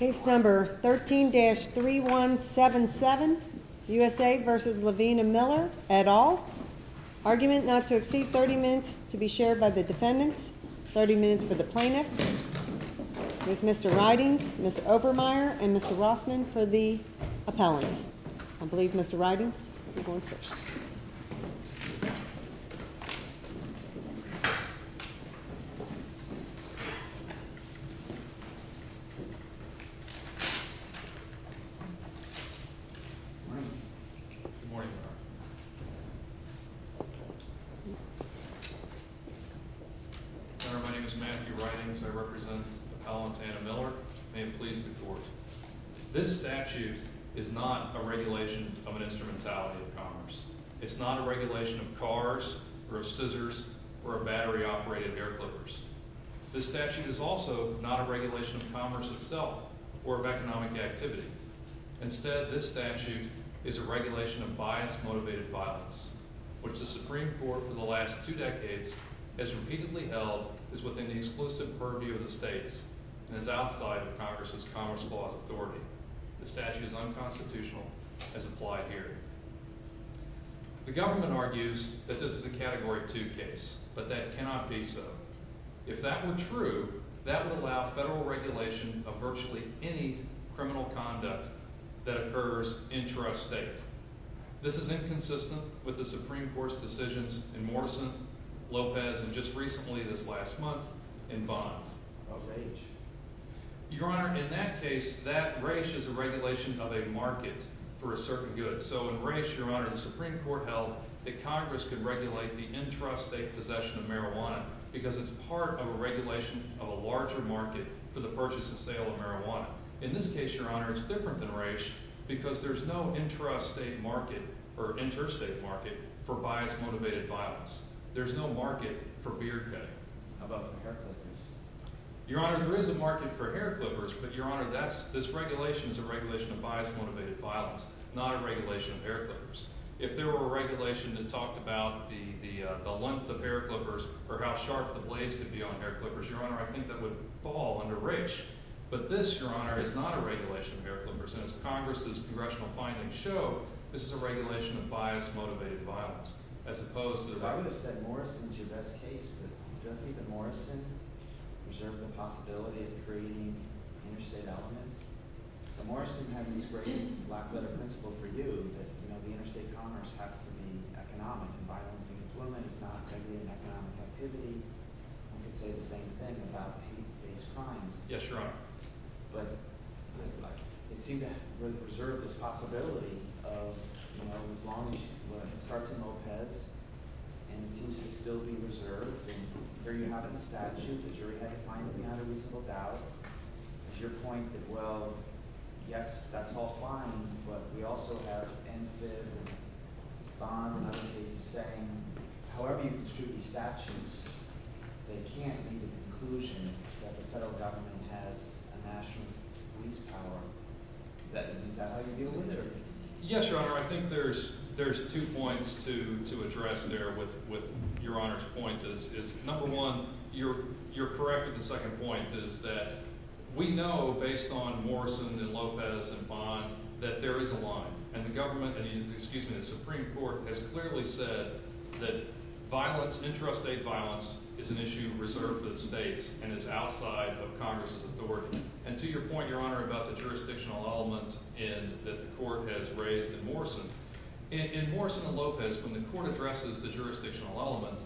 13-3177 U.S.A. v. Levine & Miller, et al. Argument now to exceed 30 minutes to be shared by the defendants. 30 minutes for the plaintiffs. Mr. Ridings, Mr. Obermeyer, and Mr. Welsman for the appellants. I believe Mr. Ridings will go first. Mr. Ridings, I represent Appellant Anna Miller. May it please the Court. This statute is not a regulation of an instrumentality of commerce. It's not a regulation of cars, or of scissors, or of battery-operated air clippers. This statute is also not a regulation of commerce itself, or of economic activity. Instead, this statute is a regulation of bias-motivated violence, which the Supreme Court for the last two decades has repeatedly held is within the explicit purview of the states and is outside of Congress's Commerce Clause authority. The statute is unconstitutional as applied here. The government argues that this is a category 2 case, but that cannot be so. If that were true, that would allow federal regulation of virtually any criminal conduct that occurs intrastate. This is inconsistent with the Supreme Court's decisions in Morrison, Lopez, and just recently this last month, in Bond. Your Honor, in that case, that race is a regulation of a market for a certain good. So in race, Your Honor, the Supreme Court held that Congress could regulate the intrastate possession of marijuana because it's part of a regulation of a larger market for the purchase and sale of marijuana. In this case, Your Honor, it's different than race because there's no intrastate market, or intrastate market, for bias-motivated violence. There's no market for weird head of other hair clippers. Your Honor, there is a market for hair clippers, but Your Honor, this regulation is a regulation of bias-motivated violence, not a regulation of hair clippers. If there were a regulation that talked about the length of hair clippers or how sharp the blades would be on hair clippers, Your Honor, I think that would fall under race. But this, Your Honor, is not a regulation of hair clippers, and as Congress's congressional findings show, this is a regulation of bias-motivated violence, as opposed to— I would have said Morrison is your best case. Do you think that Morrison preserves the possibility of creating interstate development? Morrison has these great black-vote principles for you, that the interstate commerce has to be an economic environment for employment, not simply an economic activity. I'm going to say the same thing about the United States Congress. Yes, Your Honor. But does he preserve this possibility of, you know, as long as he starts in Lopez, and he seems to still be preserved, or you have a statute that you're identifying with the matter we spoke about, your point that, well, yes, that's all fine, but we also have N-5 and Bonner, 1982, however you construe these statutes, they can't be the conclusion that the federal government has a national police power. Is that how you deal with it? Yes, Your Honor, I think there's two points to address there with Your Honor's point, number one, you're correct in the second point, is that we know, based on Morrison and Lopez and Bonner, that there is a line, and the government, excuse me, the Supreme Court has clearly said that violence, interstate violence, is an issue reserved to the states, and it's outside of Congress's authority. And to your point, Your Honor, about the jurisdictional element that the court has raised in Morrison, in Morrison and Lopez, when the court addresses the jurisdictional element,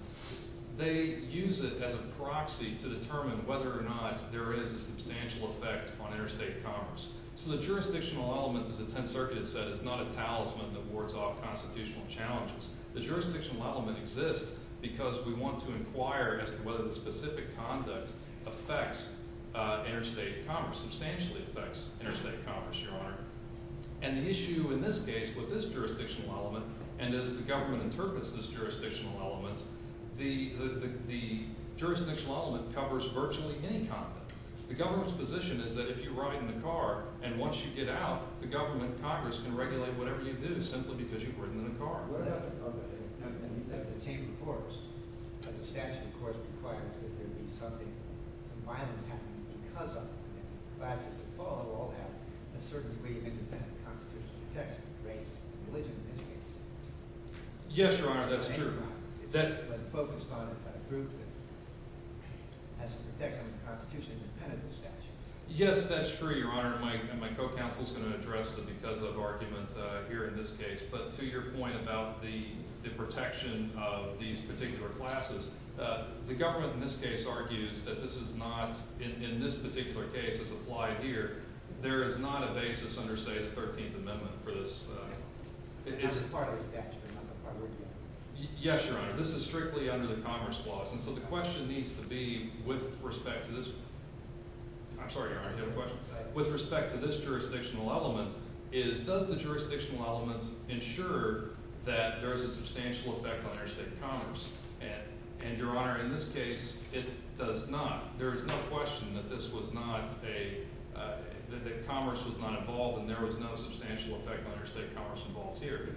they use it as a proxy to determine whether or not there is a substantial effect on interstate commerce. So the jurisdictional element of the Tenth Circuit says it's not a talisman that wards off constitutional challenges. The jurisdictional element exists because we want to inquire as to whether the specific conduct affects interstate commerce, substantially affects interstate commerce, Your Honor. And the issue in this case with this jurisdictional element, and as the government interprets this jurisdictional element, the jurisdictional element covers virtually any conflict. The government's position is that if you're riding in a car, and once you get out, the government of Congress can regulate whatever you do simply because you've ridden in a car. Yes, Your Honor, that's true. Yes, that's true, Your Honor. My co-counsel's going to address it because of argument here in this case. But to your point about the protection of these particular classes, the government in this case argues that this is not, in this particular case as applied here, there is not a basis under, say, the Thirteenth Amendment for this. Is it part of the statute? Yes, Your Honor. This is strictly under the Commerce Clause. And so the question needs to be with respect to this one. I'm sorry, Your Honor, I have a question. With respect to this jurisdictional element, does the jurisdictional element ensure that there is a substantial effect on your state commerce? And, Your Honor, in this case, there is no question that this was not a, that commerce was not involved and there was no substantial effect on your state commerce involved here.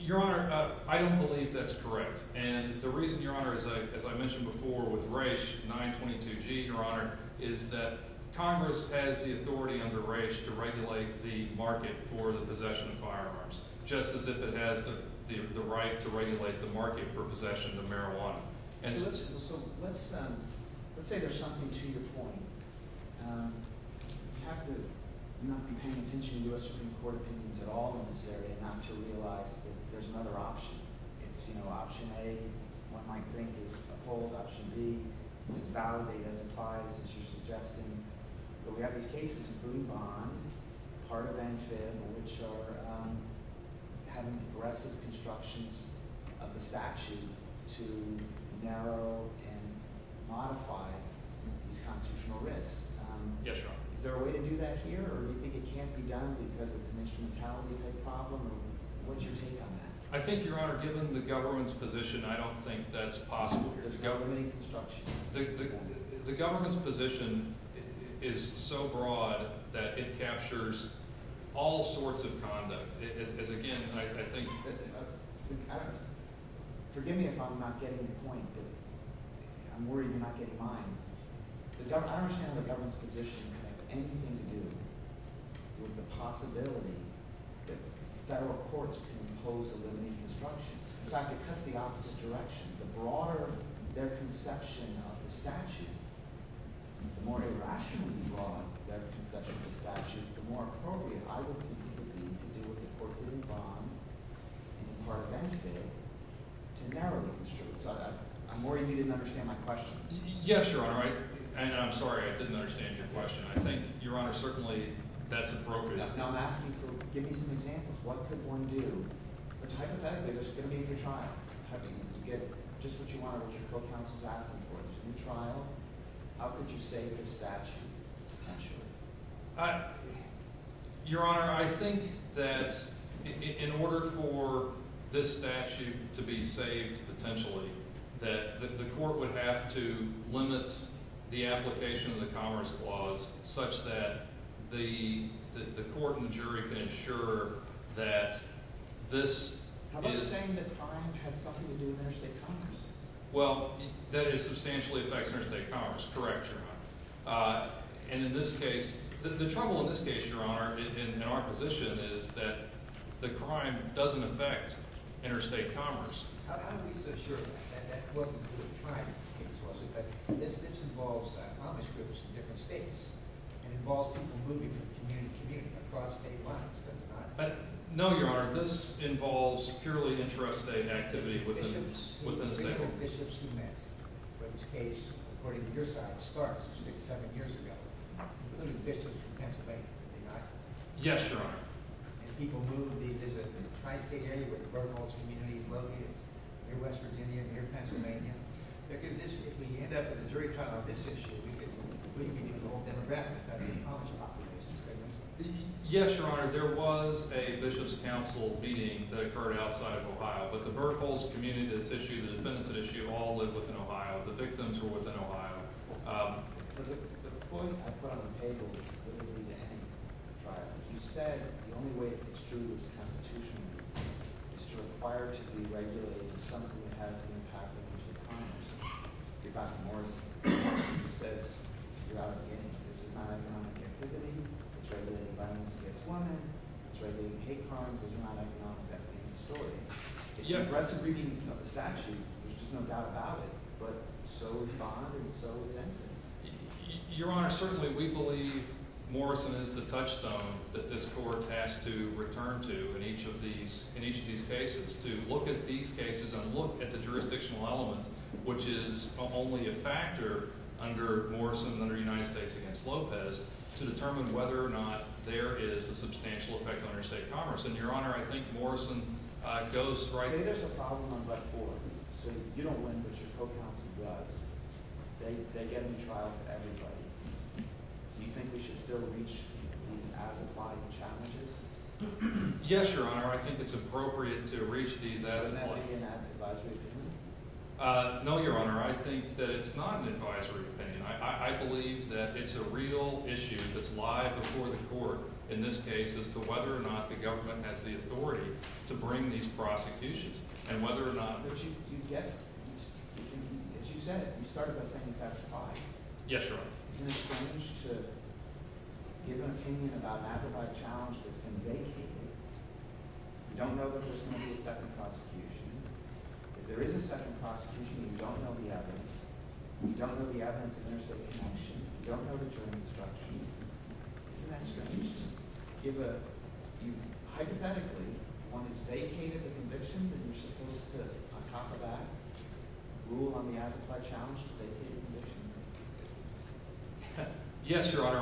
Your Honor, I don't believe that's correct. And the reason, Your Honor, as I mentioned before with race, 922G, Your Honor, is that commerce has the authority under race to regulate the market for the possession of firearms, just as it has the right to regulate the market for possession of marijuana. So let's say there's something to your point. I'm not paying attention to U.S. Supreme Court opinions at all in this area, not until we realize that there's another option. There's no option A. What I think is a bold option B. I think it's probably an advice to suggest that we have a case to prove on, a part of that is to ensure that we're having progressive constructions of the statute to narrow and modify these constitutional risks. Yes, Your Honor. Is there a way to do that here? Or do you think it can't be done because the commission in Calgary has a problem? What's your take on that? I think, Your Honor, given the government's position, I don't think that's possible. The government's position is so broad that it captures all sorts of conduct. And, again, I think— Forgive me if I'm not getting the point. I'm worried that I might get blind. I understand the government's position. I think we can do with the possibility that federal courts can impose the new construction. In fact, it cuts the opposite direction. The broader their conception of the statute, the more irrationally involved that conception of the statute, the more appropriate I would believe that it would be for them to narrow the construction. I'm worried you didn't understand my question. Yes, Your Honor. And I'm sorry I didn't understand your question. I think, Your Honor, certainly that's appropriate. I just want to ask you to give me some examples of what you're going to do. It's hypothetical. There's going to be a trial. You're going to get just what you want. What kind of statute do you want? Is it a new trial? How could you save the statute, potentially? Your Honor, I think that in order for this statute to be saved, potentially, that the court would have to limit the application of the commerce clause such that the court and the jury can ensure that this is— I'm not saying that crime has nothing to do with interstate commerce. Well, that it substantially affects interstate commerce. Correct, Your Honor. And in this case, the trouble in this case, Your Honor, in our position, is that the crime doesn't affect interstate commerce. I'm reassured that that wasn't the crime. But this involves commerce provisions in the states. It involves people moving from community to community across state lines. No, Your Honor. This involves purely interstate activity within the state. It's the individual bishops who met. In this case, according to your side of the story, which was 10 years ago, including bishops from Pennsylvania. Yes, Your Honor. People moving to visit the Tri-State area where the Burgholz community is located, near Western India, near Pennsylvania. In this case, we end up at the very top of this issue. Yes, Your Honor. There was a bishops' council meeting that occurred outside of Ohio. But the Burgholz community, this issue, this business issue, all lived within Ohio. The victims were within Ohio. The point I brought on the table is that you said the only way to extrude this Constitution is to require it to be regulated. Something that hasn't impacted interstate commerce. You brought some more to the table. You said throughout the case, it's not economic activity. It's regulated by an interstate funder. It's regulated by patrons. It's not economic activity. Yes. Your Honor, certainly we believe Morrison is the touchstone that this Court has to return to in each of these cases. To look at these cases and look at the jurisdictional element, which is only a factor under Morrison and the United States v. Lopez, to determine whether or not there is a substantial effect on interstate commerce. And, Your Honor, I think Morrison goes right... There is a problem on that board. So, if you don't want to put your foot on the gas, they get in trial for everybody. Do you think we should still reach the applied challenges? Yes, Your Honor. I think it's appropriate to reach these... And that's why you're not an advisory opinion? No, Your Honor. I think that it's not an advisory opinion. I believe that it's a real issue that's live before the Court, in this case, as to whether or not the government has the authority to bring these prosecutions, and whether or not... But you get... As you said, you started us on the test of time. Yes, Your Honor. And then you said you don't see anything about an applied challenge that's engaging. You don't know that there's going to be a second prosecution. If there is a second prosecution, you don't know the evidence. You don't know the evidence that makes up the case. You don't know that you're in a second prosecution. Next question. If a... I just have a question. Once they came to the conviction, were you supposed to talk about rule on the applied challenge? Yes, Your Honor.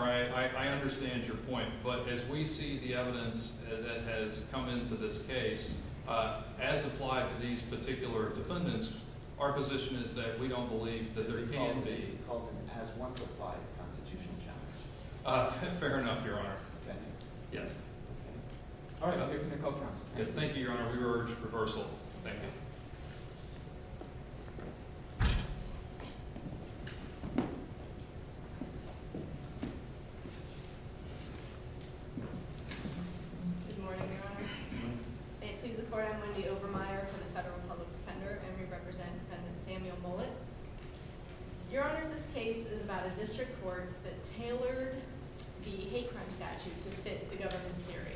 I understand your point. But as we see the evidence that has come into this case, as applied to these particular defendants, our position is that we don't believe that there can be... You can't be open at one to five times. That's fair enough, Your Honor. Okay. Yes. All right. I'll give you my coat, Your Honor. Thank you, Your Honor. We urge reversal. Thank you. Good morning, Your Honor. Thank you. Before I'm going to be over-mired to the Federal Public Defender, I'm going to represent Senator Samuel Mullins. Your Honor, this case is about a district court that tailored the hate crime statute to fit the evidence series.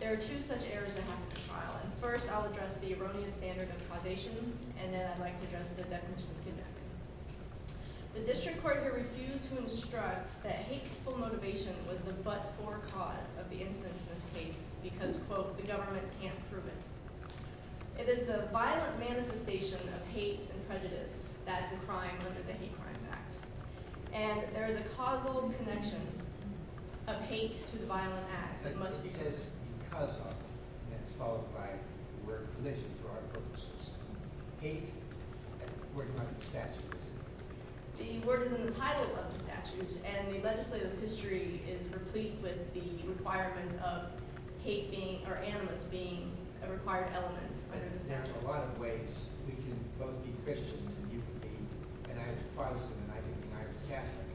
There are two such errors in this trial. First, I'll address the erroneous standard of causation, and then I'd like to address the definition to that. The district court here refused to instruct that hateful motivation was the but-for cause of the instance of hate because, quote, the government can't prove it. It is the violent manifestation of hate and prejudice that is a crime under the Hate Crimes Act. And there is a causal connection of hate to violent acts that must exist because of, and that's followed by, the word collision for our purposes. Hate, according to the statute. The words in the title of the statute and the legislative history is replete with the requirement of hate being, or animus being, a required element. There are a lot of ways we can both be Christians and euthanized. I'm not a Protestant, and I don't mean I'm a Catholic.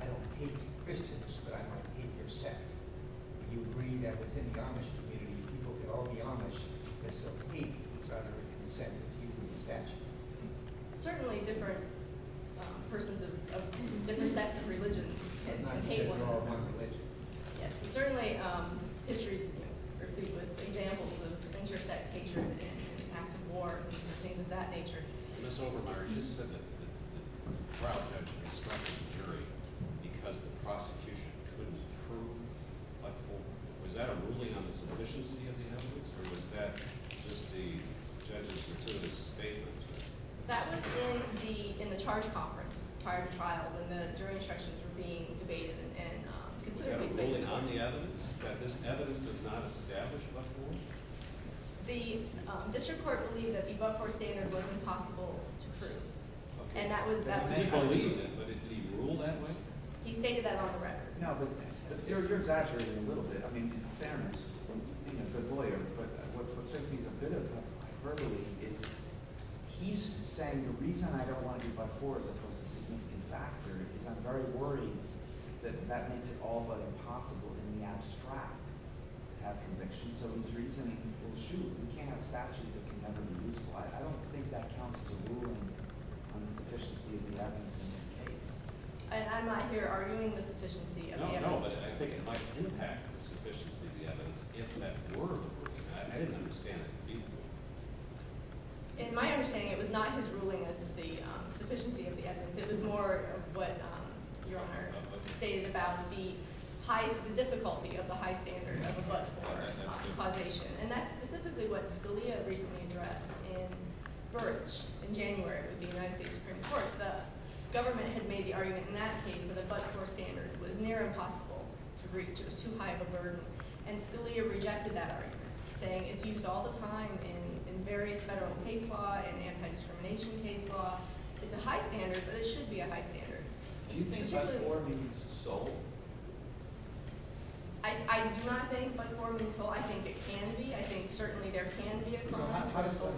I don't hate Christians, but I don't hate their sect. You would bring that within the Amish community, people who are all Amish, and so hate is under the consent of the statute. Certainly different persons of different sects of religion. And not all one religion. Yes, certainly history is replete with examples of inter-sect hatred and acts of war and things of that nature. Ms. Obermeyer, you said that the trial judge was incurring because the prosecution couldn't prove a fault. Is that really an insufficiency of the evidence? Or was that just the judge's continuous statement? That was in the charge conference, the prior trial, when the jury instructions were being based on the evidence. Was there evidence that was not established by the court? The district court believed that the but-for statement was impossible to prove. And that was that. He believed it, but did he rule that way? He made that on the record. Now, the theory here is actually a little bit in the defense of the lawyer. But what's interesting to me is that he's saying the reason I don't want to be but-for is a consistency factor. And I'm very worried that that makes it all but impossible to be abstract and have conviction. So he's reasoning, well, shoot, we can't establish it. I don't think that counts as a ruling on the sufficiency of the evidence. I'm not here arguing the sufficiency of the evidence. No, no. I think it might have an impact on the sufficiency of the evidence. If that were the case, I had an understanding of the evidence. In my understanding, it was not his ruling that was the sufficiency of the evidence. It was more of what Your Honor stated about the difficulty of the high standard of a but-for foundation. And that's specifically what Scalia recently addressed in Birch in January with the United States Supreme Court. The government had made the argument in that case that the but-for standard was near impossible to reach. It was too high of a burden. And Scalia rejected that argument, saying it's used all the time in various federal case law, in information case law. It's a high standard, but it shouldn't be a high standard. Do you think that the court needs a soul? I'm not saying the court needs a soul. I think it can be. I think certainly there can be a soul.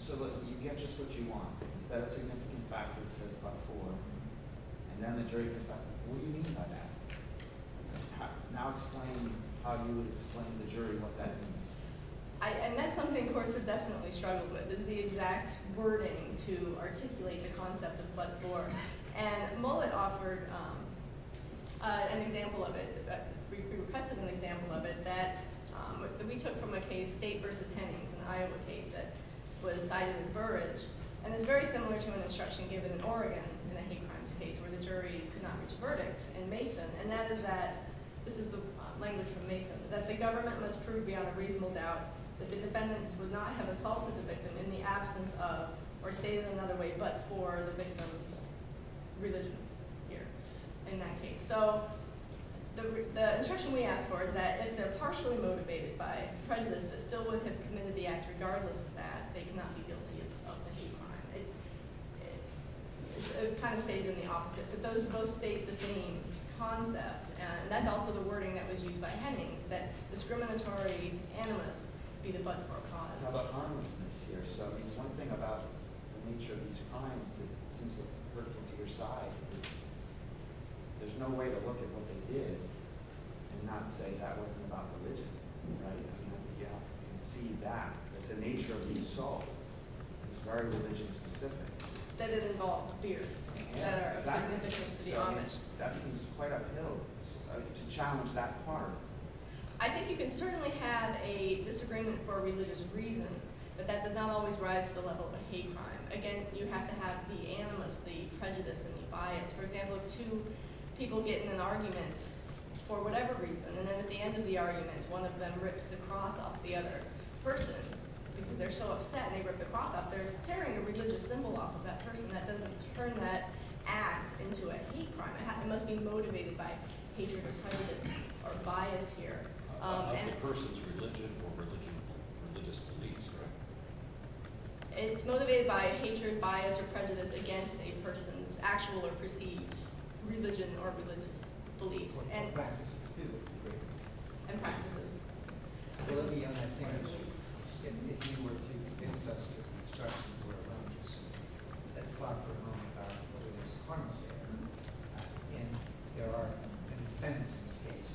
So let's get just what you want. That's an interesting factor, to say the but-for. It demonstrates the fact that the ruling is not accurate. I'll explain how you would explain the jury's opinion. I think that's something the court should definitely struggle with, is the exact wording to articulate the concept of but-for. And Mullen offered an example of it. We requested an example of it. We took from a case, State v. Tennyson, Iowa State, that was not encouraged. And it's very similar to an instruction given in Oregon in connection with our state, where the jury did not disperse in Mason. And that is that, this is the language of Mason, that the government must prove beyond reasonable doubt that the defendants would not have assaulted the victim in the absence of, or stated in another way, but-for the victim's religion. Here, in that case. So the instruction we asked for is that if they're partially motivated by the presence that someone has committed the act regardless of that, they cannot be able to use the but-for on their case. So it's kind of stated in the opposite. But those both state the same concept. And that's also the wording that was used by Henning, that discriminatory animals need a but-for on their case. I have a comment to make here. Something about the nature of these comments is that the court, on the other side, there's no way to look at what they did and not say that was not the case. Right. Yeah. The fact that the nature of the assault is very religion-specific. That it involves fear. Yeah. And I think that, to be honest, that is quite up in the middle of the society to challenge that harm. I think you can certainly have a disagreement for a religious reason, but that does not always rise to the level of a hate crime. Again, you have to have the animals be prejudiced and defiant. For example, two people get in an argument for whatever reason, and at the end of the argument, one of them rips the cloth off the other person. They're so upset, they rip the cloth off. They're tearing a religious symbol off of that person. That doesn't turn that act into a hate crime. That must be motivated by hatred, prejudice, or bias here. It's motivated by hatred, bias, or prejudice against a person's actual or perceived religion or religious belief. In fact, if you were to investigate the destruction of a religious system, that's probably not the best way to respond to that. Again, there are defendants in this case.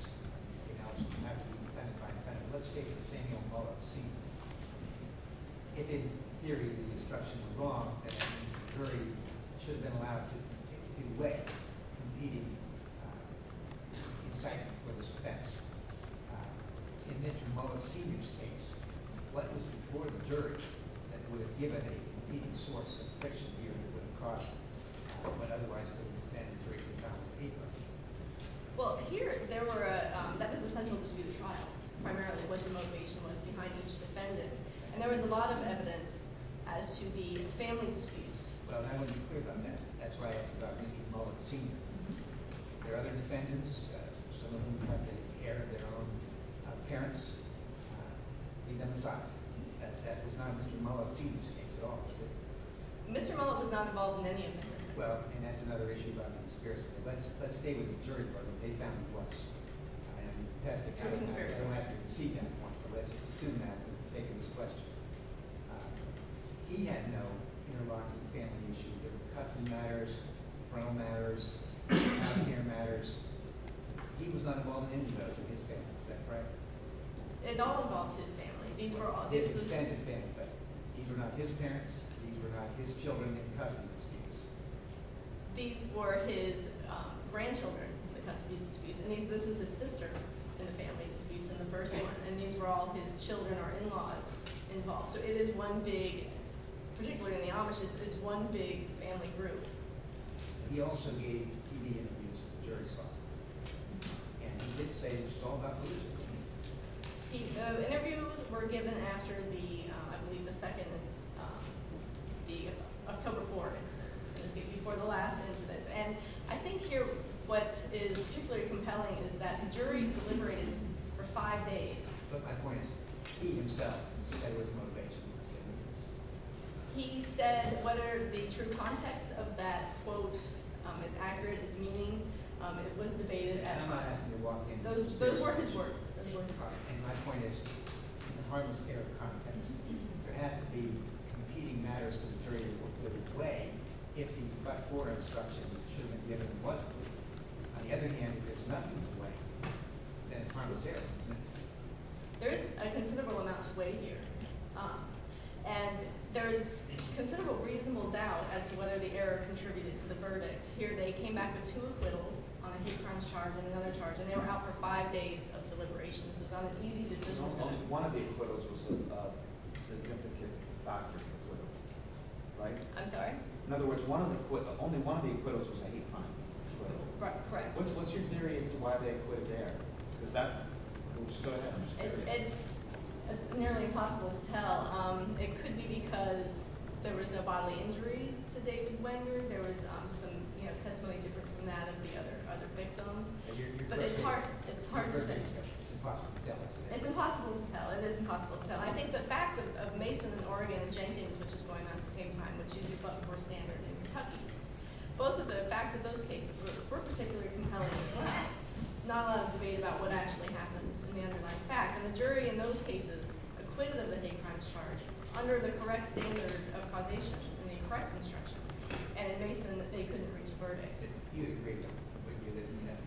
Perhaps you have to defend that. Let's take the thing of policy. In theory, the destruction is wrong, and in theory, it should have been allowed to be in effect immediately. In fact, it was best to admit to policy in this case. But it was an important judge that would have given it a small suspicion here and a little bit across, but otherwise, the administration would not have agreed on it. Well, here, there were... That is essential to the trial, primarily what the motivation was behind each defendant. There was a lot of evidence as to the family disputes. Well, how did you hear about that? That's why I talked to Mr. Mullock this evening. There are defendants, some of whom have taken care of their own parents. In fact, Mr. Mullock was on the call this evening. Well, and that's another issue about conspiracy. Let's take a return to what they found was. I wasn't very happy to see him, but I was too happy to take his question. He had no involvement in the family issues. The custody matters, the parole matters, the child care matters. He was not involved in any of those with his family. Is that correct? It's all involved with his family. These were all his defendants' families. These were not his parents. These were not his children and his cousins. These were his grandchildren. His name goes with his sister. His family disputes in the first place. These were all his children or in-laws involved. It is one big family group. He also gave media interviews himself. And he did say he was told not to leave. Interviews were given after, I believe, the second week of October 4th, which would be before the last. I think here what is particularly compelling is that the jury deliberated for five days. He said whether the true context of that quote is accurate in meaning. It was debated at a time. Those were his words. And my point is, there has to be competing matters to create a completely different way. If the court of instruction should have given what evidence, there has to be a way. There is a considerable amount of weight here. And there is considerable reasonable doubt as to whether the error contributed to the verdict. Here they came back to a little on a different charge than the other charge, and they were out for five days of deliberation. The only one of the quotes was something about the doctor. I'm sorry? In other words, the only one of the quotes was anything. Right, right. What's your theory as to why they put it there? It's nearly impossible to tell. It could be because there was a lot of injury to David Wenger. There was, you know, a way to imagine the other victims. But it's part of it. It's impossible to tell. It's impossible to tell. It is impossible to tell. I think the factors of Mason, and Morgan, and Cheney, which was going on at the same time, which is what the court standard is telling us, both of the fact that those cases were the first case where you can tell that there was a lot of debate about what actually happened, and the jury in those cases acquitted him of any kind of charge under the correct standards of foundation, under the correct instruction, and it made them think that they could restart it. He was a great judge. He was a great judge.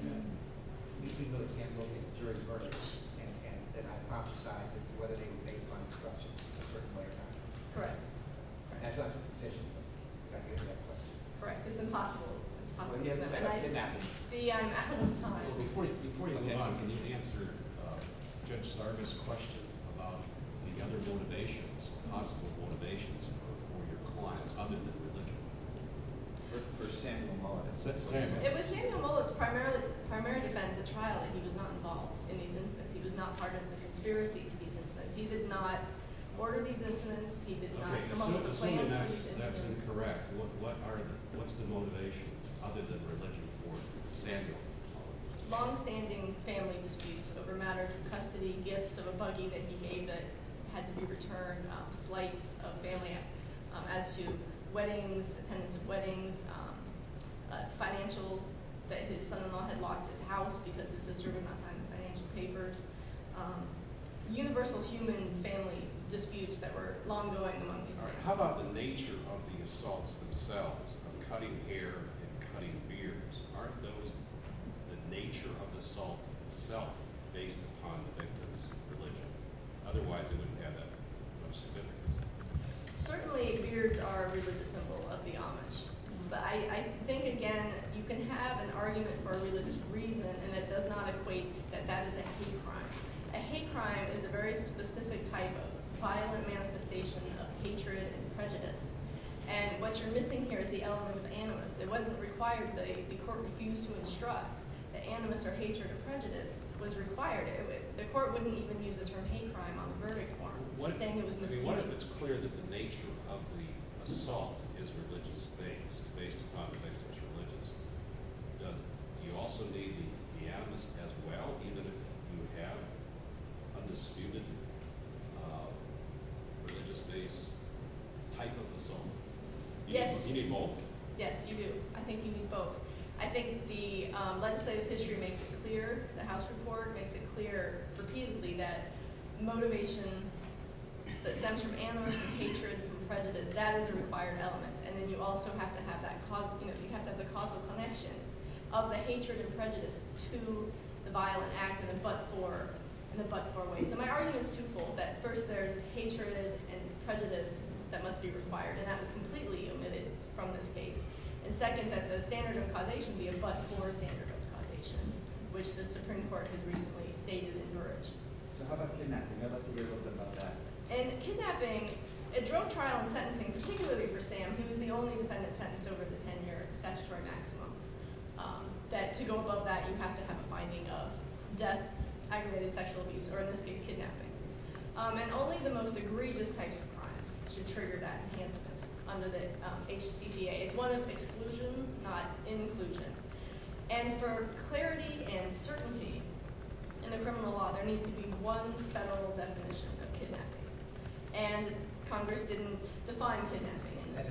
He came to the panel with jury's verdicts and hypothesized whether they could make a fine deduction in a certain way. And that's not the intention of the case. It's not going to be a fair judge. Right, it's impossible. It's impossible to get that right. The point of the argument is to answer Judge Starkey's question about the gender motivations, the possible motivations of your clients, other than the women. Is this the first case in the court? Yes, it is. It was James Camullo's primary defense at trial. He was not involved in these incidents. He was not part of the conspiracy. He did not coordinate these incidents. He did not come up with a plan. So, in that case, that's incorrect. What's the motivating evidence related to the court standard? Long-standing family disputes over matters of custody, gifts of a buddy that he gave that had to be returned, like a family act, as to weddings, weddings, financial, that his son-in-law had lost his house because his sister was on time for financial favors, universal human family disputes that were long-going on the court. How about the nature of the assaults themselves, cutting hair and cutting beards? Aren't those the nature of the assault itself, based upon the victims' religion? Otherwise, you've got nothing. What's the difference? Certainly, beards are a religious symbol of the Amish. But I think, again, you can have an argument for religious reasons, and it does not equate to that that's a hate crime. A hate crime is a very specific type of thought as a manifestation of hatred and prejudice. And what you're missing here is the element of animus. It wasn't required that if the court refused to instruct that animus or hatred or prejudice was required, the court wouldn't even use it for a hate crime on the verge of one. What if it's clear that the nature of the assault is a religious thing, based upon the victims' religion, but you also believe that we have, as well, that you have a disputed religious-based type of assault? Yes. You mean both? Yes, you do. I think you mean both. I think the legislative issue makes it clear, the House report makes it clear repeatedly that motivation, the sense of animus, hatred, and prejudice, that is a required element. And then you also have to have that causal connection of the hatred and prejudice to the violent act and the blood for waste. My argument is twofold, that first there's hatred and prejudice that must be required and that's completely omitted from the case. And second, that the standard of causation, which the Supreme Court has recently stated is encouraged. How about kidnapping? And kidnapping, the drug trial sentencing, particularly for stamps, because the only defendant sentenced over the 10 years, that's your maximum. That you don't know that, you have to have a finding of, that aggravated sexual abuse or other state kidnapping. And only the most egregious types of crimes should trigger that in Kansas. Under the HCDA, it was exclusion, not inclusion. And there was clarity and certainty in the criminal law that there needed to be one federal definition of kidnapping. And Congress didn't define kidnapping. I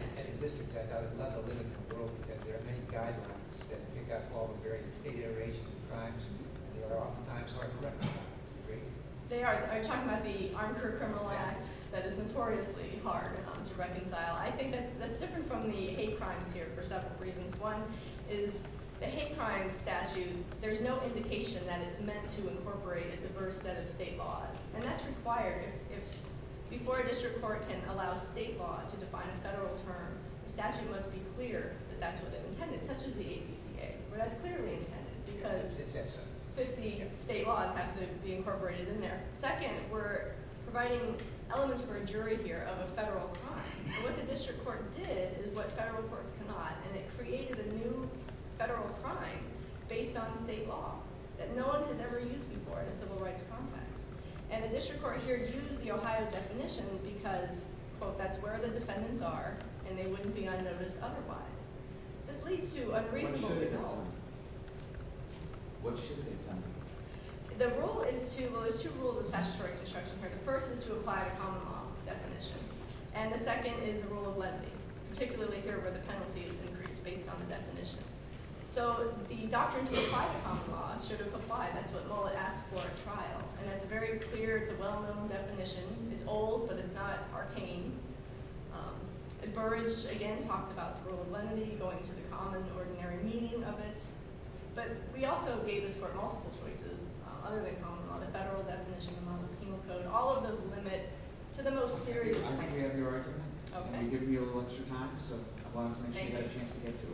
was talking about the Armed Career Criminal Act that is notoriously hard to reconcile. I think that's different from the hate crimes here for several reasons. One is the hate crimes statute, there's no indication that it's meant to incorporate a diverse set of state laws. And that's required. Before a district court can allow state laws to define a federal term, the statute must be clear that that's what's intended, such as the HCDA. But that's clearly intended, because 50 state laws have to be incorporated in there. Second, we're providing elements for a jury here of a federal crime. What the district court did is what federal courts cannot, and it created a new federal crime based on state law. And no one can ever use these laws in a civil rights context. And the district court here uses the Ohio definition because that's where the defendants are, and they wouldn't be unnoticed otherwise. This leads to a great moral goal. What should be done? The rule is two rules of statutory construction. The first is to apply a common law definition, and the second is the rule of lenity, particularly here where the penalties increase based on definitions. So the doctrine to apply a common law should apply, that's what all it asks for at trial. It has very clear, well-known definitions. It's old, but it's not arcane. And so we just, again, talked about the rule of lenity, going to the common, ordinary meaning of it. But we also gave it for all the choices, other than common law, the federal definition, all of those limit to the most serious crime. Okay. Thank you. Thank you. Thank you.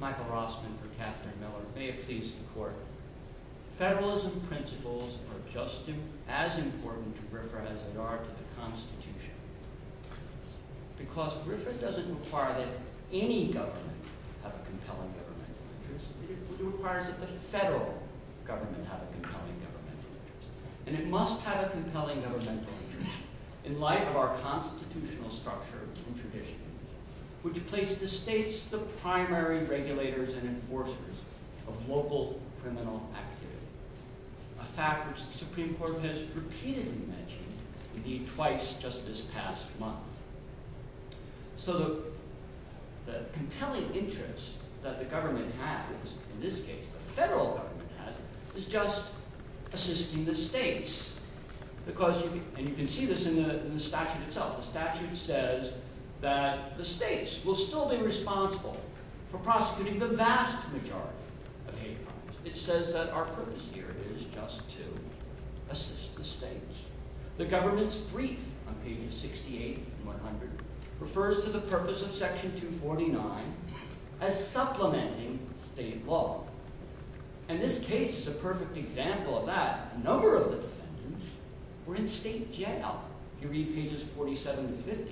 Michael Rossman for Catherine Mellon. May it please the court. Federalism principles are just as important to RIFRA as they are to the Constitution. Because RIFRA doesn't require that any government have a compelling government. It requires that the federal government have a compelling government. And it must have a compelling government. In light of our constitutional structure and tradition, we place the states the primary regulators and enforcers of global criminal activity, a fact which the Supreme Court has repeatedly mentioned, indeed, twice just this past month. So the compelling interest that the government has, in this case, the federal government has, is just assisting the states. Because, and you can see this in the statute itself, the statute says that the states will still be responsible for prosecuting the vast majority of hate crimes. It says that our purpose here is just to assist the states. The government's brief on page 68 of 100 refers to the purpose of section 249 as supplementing state law. And this case is a perfect example of that. Another of the things, we're in state jail. You read pages 47 to 50 of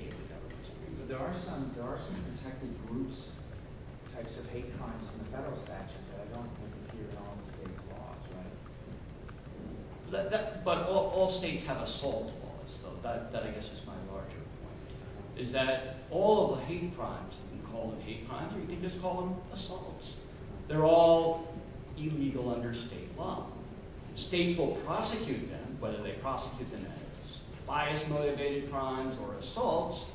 the federal statute. But there are some protected groups, types of hate crimes in the federal statute that I don't think appear to have state laws, right? But all states have assault laws. That, I guess, is my larger point. Is that all of the hate crimes that we call hate crimes, we just call them assaults. They're all illegal under state law. State will prosecute them, whether they prosecute them as bias-motivated crimes or assaults,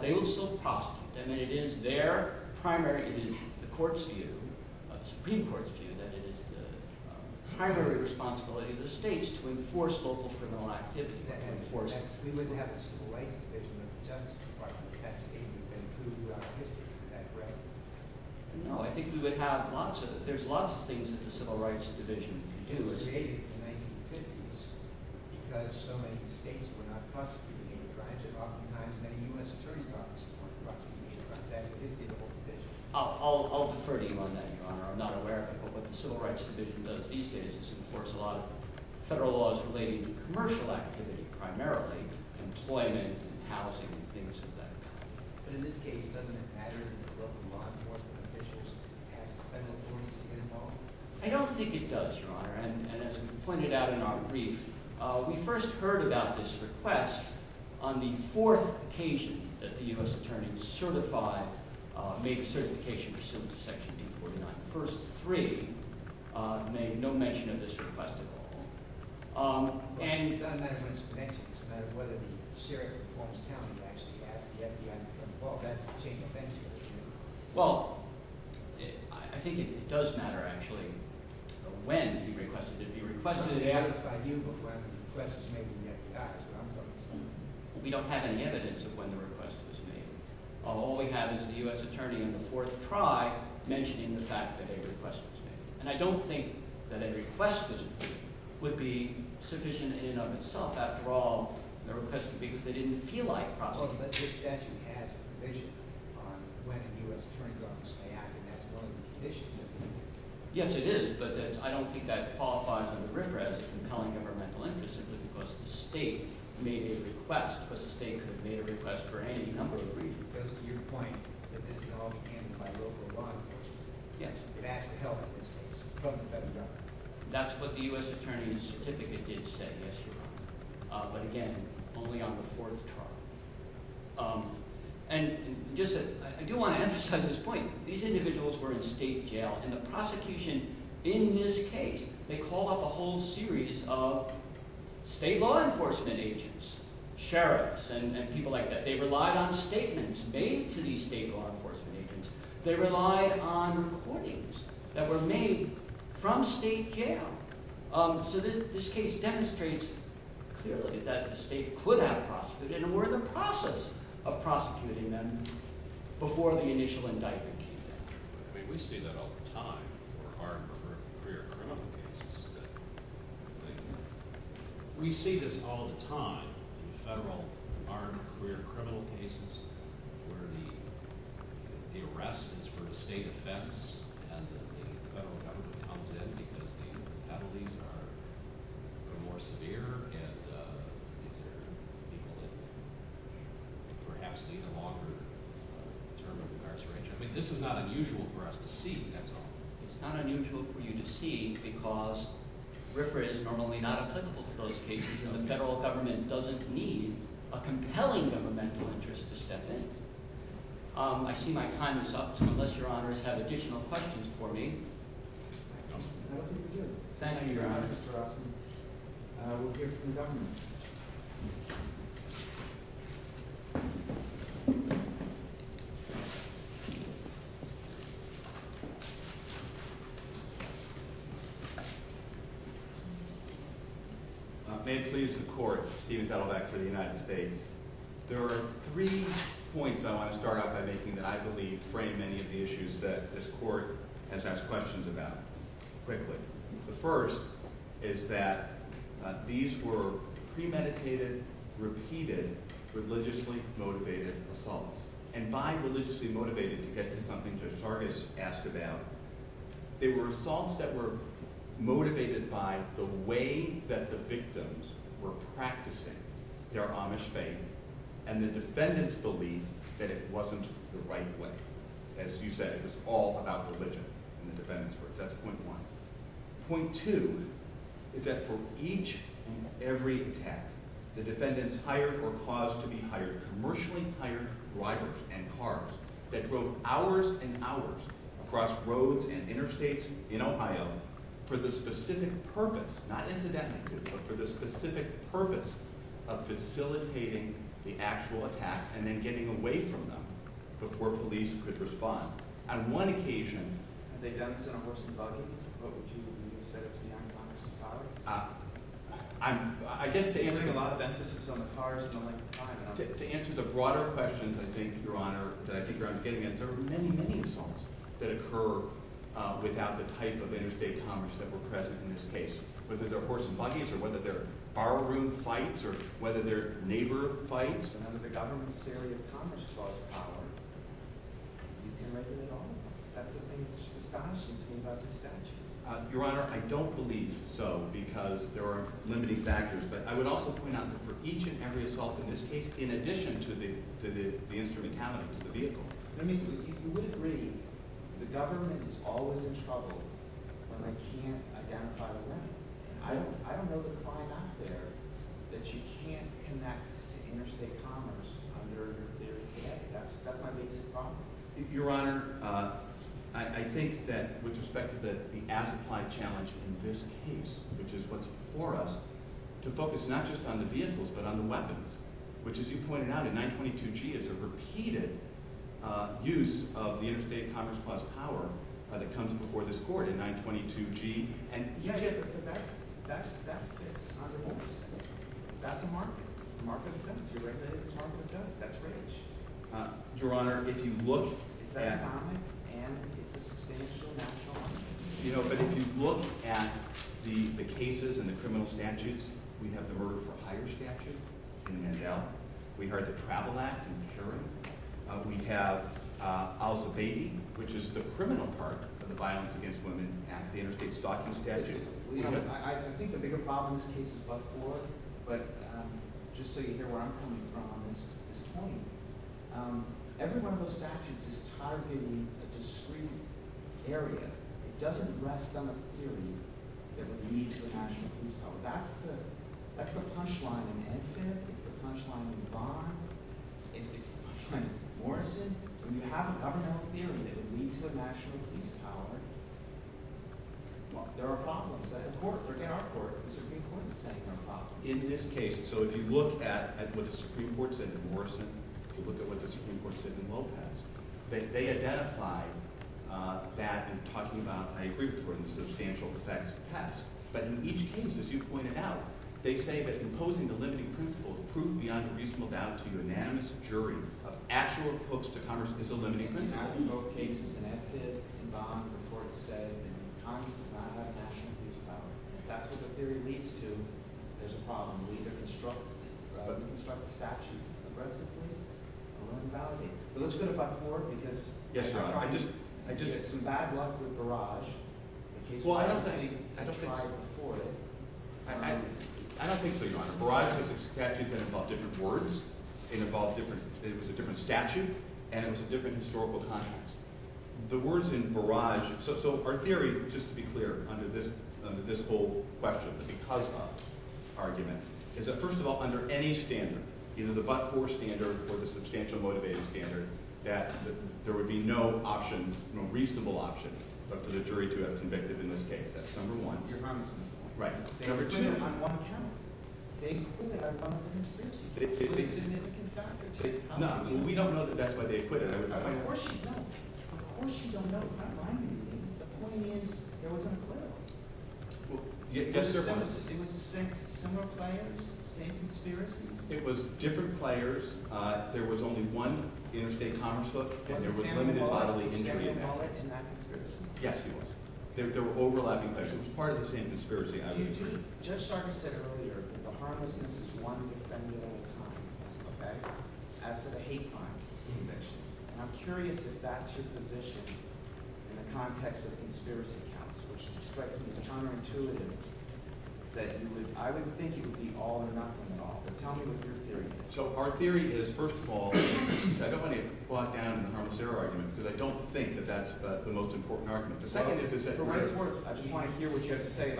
they will still prosecute them. And it is their primary duty, the Supreme Court's duty, that is the primary responsibility of the states to enforce local criminal activity. Can't enforce that. We wouldn't have a civil rights division if we didn't have the Department of Justice and the Department of Justice. No, I think we would have lots of, there's lots of things that the civil rights division can do as agents and defendants. Because so many states are not prosecuting or trying to prosecute them. And the U.S. Attorney's Office is one of the last to be prosecuted. I'll defer to you on that, Your Honor. I'm not aware of what the civil rights division does. These cases enforce a lot of federal laws relating to commercial activity, primarily employment and housing and things like that. But in this case, it doesn't impact on government officials. I don't think it does, Your Honor. And as we pointed out in our brief, we first heard about this request on the fourth occasion that the U.S. Attorney certified, made certification for civil protection. The first three made no mention of this request at all. And... Well, I think it does matter, actually, when the request should be requested. We don't have any evidence of when the request was made. All we have is the U.S. Attorney and the court tried mentioning the fact that a request was made. And I don't think that a request was made would be sufficient in and of itself. After all, the request was made because they didn't feel like prosecuting. But this actually adds information. The U.S. Attorney doesn't say it has no implications. Yes, it is, but I don't think that qualifies as a request. I'm telling you from my point of view, because the state made a request, but the state has made a request for any number of reasons. Because, to your point, the methodology can be quite overwhelming. Yes, it actually helps. That's what the U.S. Attorney's certificate did say, Mr. Brown. But again, only on the fourth time. And I do want to emphasize this point. These individuals were in state jail and the prosecution, in this case, they call up a whole series of state law enforcement agents, sheriffs, and people like that. They relied on statements made to these state law enforcement agents. They relied on recordings that were made from state jail. So this case demonstrates clearly that the state could have prosecuted, and were in the process of prosecuting them before the initial indictment came out. We see that all the time in our career criminal cases. We see this all the time in the federal department of career criminal cases where the arrest is for the state offense as the federal government contends as the penalties are more severe and perhaps even longer term of arrest for each other. This is not unusual for us to see. It's not unusual for you to see because RIFRA is normally not a typical case and the federal government doesn't need a compelling governmental interest to step in. I see my time is up, unless your honors have additional questions for me. Thank you, your honors. We'll hear from the government. May it please the court, Stephen Belovax for the United States. There are three points I want to start off by making that I believe frame many of the issues that this court has asked questions about. The first is that these were premeditated, repeated, religiously motivated assaults. And by religiously motivated to get to something the charges passed it down. They were assaults that were motivated by the way that the victims were practicing their Amish faith and the defendants believed that it wasn't the right way. As you said, it was all about religion That's point one. Point two is that for each and every attack the defendants hired or caused to be hired commercially hired drivers and cars that drove hours and hours across roads and interstates in Ohio for the specific purpose not incidentally, but for the specific purpose of facilitating the actual attack and then getting away from them before police could respond. On one occasion I'm answering a lot of emphasis on the cars To answer the broader questions I think Your Honor there were many, many assaults that occurred without the type of interstate commerce that were present in this case. Whether they're horse and buggies or whether they're borrowed room fights or whether they're neighbor fights or whether the government's failure to accomplish its cause of power Your Honor, I don't believe so because there are limiting factors but I would also point out that for each and every assault in this case, in addition to the instrumentality of the vehicle Let me put it this way. The government is always in trouble when they can't identify the limit. I don't know that it's all out there that you can't come back to interstate commerce. That might be the problem. Your Honor, I think that with respect to the as-implied challenge in this case which is what's before us to focus not just on the vehicles but on the weapons which as you pointed out in 922G is a repeated use of the interstate commerce plus power that comes before this court in 922G Yeah, yeah, yeah, that's it. That's it. That's a mark. Your Honor, if you look at if you look at the cases and the criminal statutes we have the murder for hire statute in the NHL. We've heard the travel act in the jury. We have House of 80 which is the criminal part of the crime statute. I think the bigger problem in this case is what's before us but just so you hear where I'm coming from on this point everyone goes to action because it's hard to get into the discreet area. It doesn't rest on a theory that we need international peace power. That's the punchline in the NHL. That's the punchline in the bar. It's the punchline in the court system. We haven't talked about a theory that we need international peace power. There are problems. In this case so if you look at what the Supreme Court said in Morrison that they identify that in talking about I agree with what you said but in each case as you pointed out they say that imposing the limiting principle will prove beyond a reasonable doubt to the unanimous jury of actual approach to Congress is a limiting principle in both cases and that's it. The court said that's what the theory leads to is a problem in constructing a statute Let's go back to the court I just had some bad luck with Barrage I don't think I can afford it I don't think so Barrage was a statute that involved different words it was a different statute and it was a different historical context the words in Barrage so our theory, just to be clear under this whole question the because of argument is that first of all, under any standard either the but-for standard or the substantial motivated standard that there would be no option no reasonable option for the jury to have convicted in this case that's number one. Right It was different players there was only one in St. Thomas There was limited modeling Yes There were overlapping questions So our theory is first of all I don't want you to plop down in the harm's error argument because I don't think that's the most important argument I just want to hear what you have to say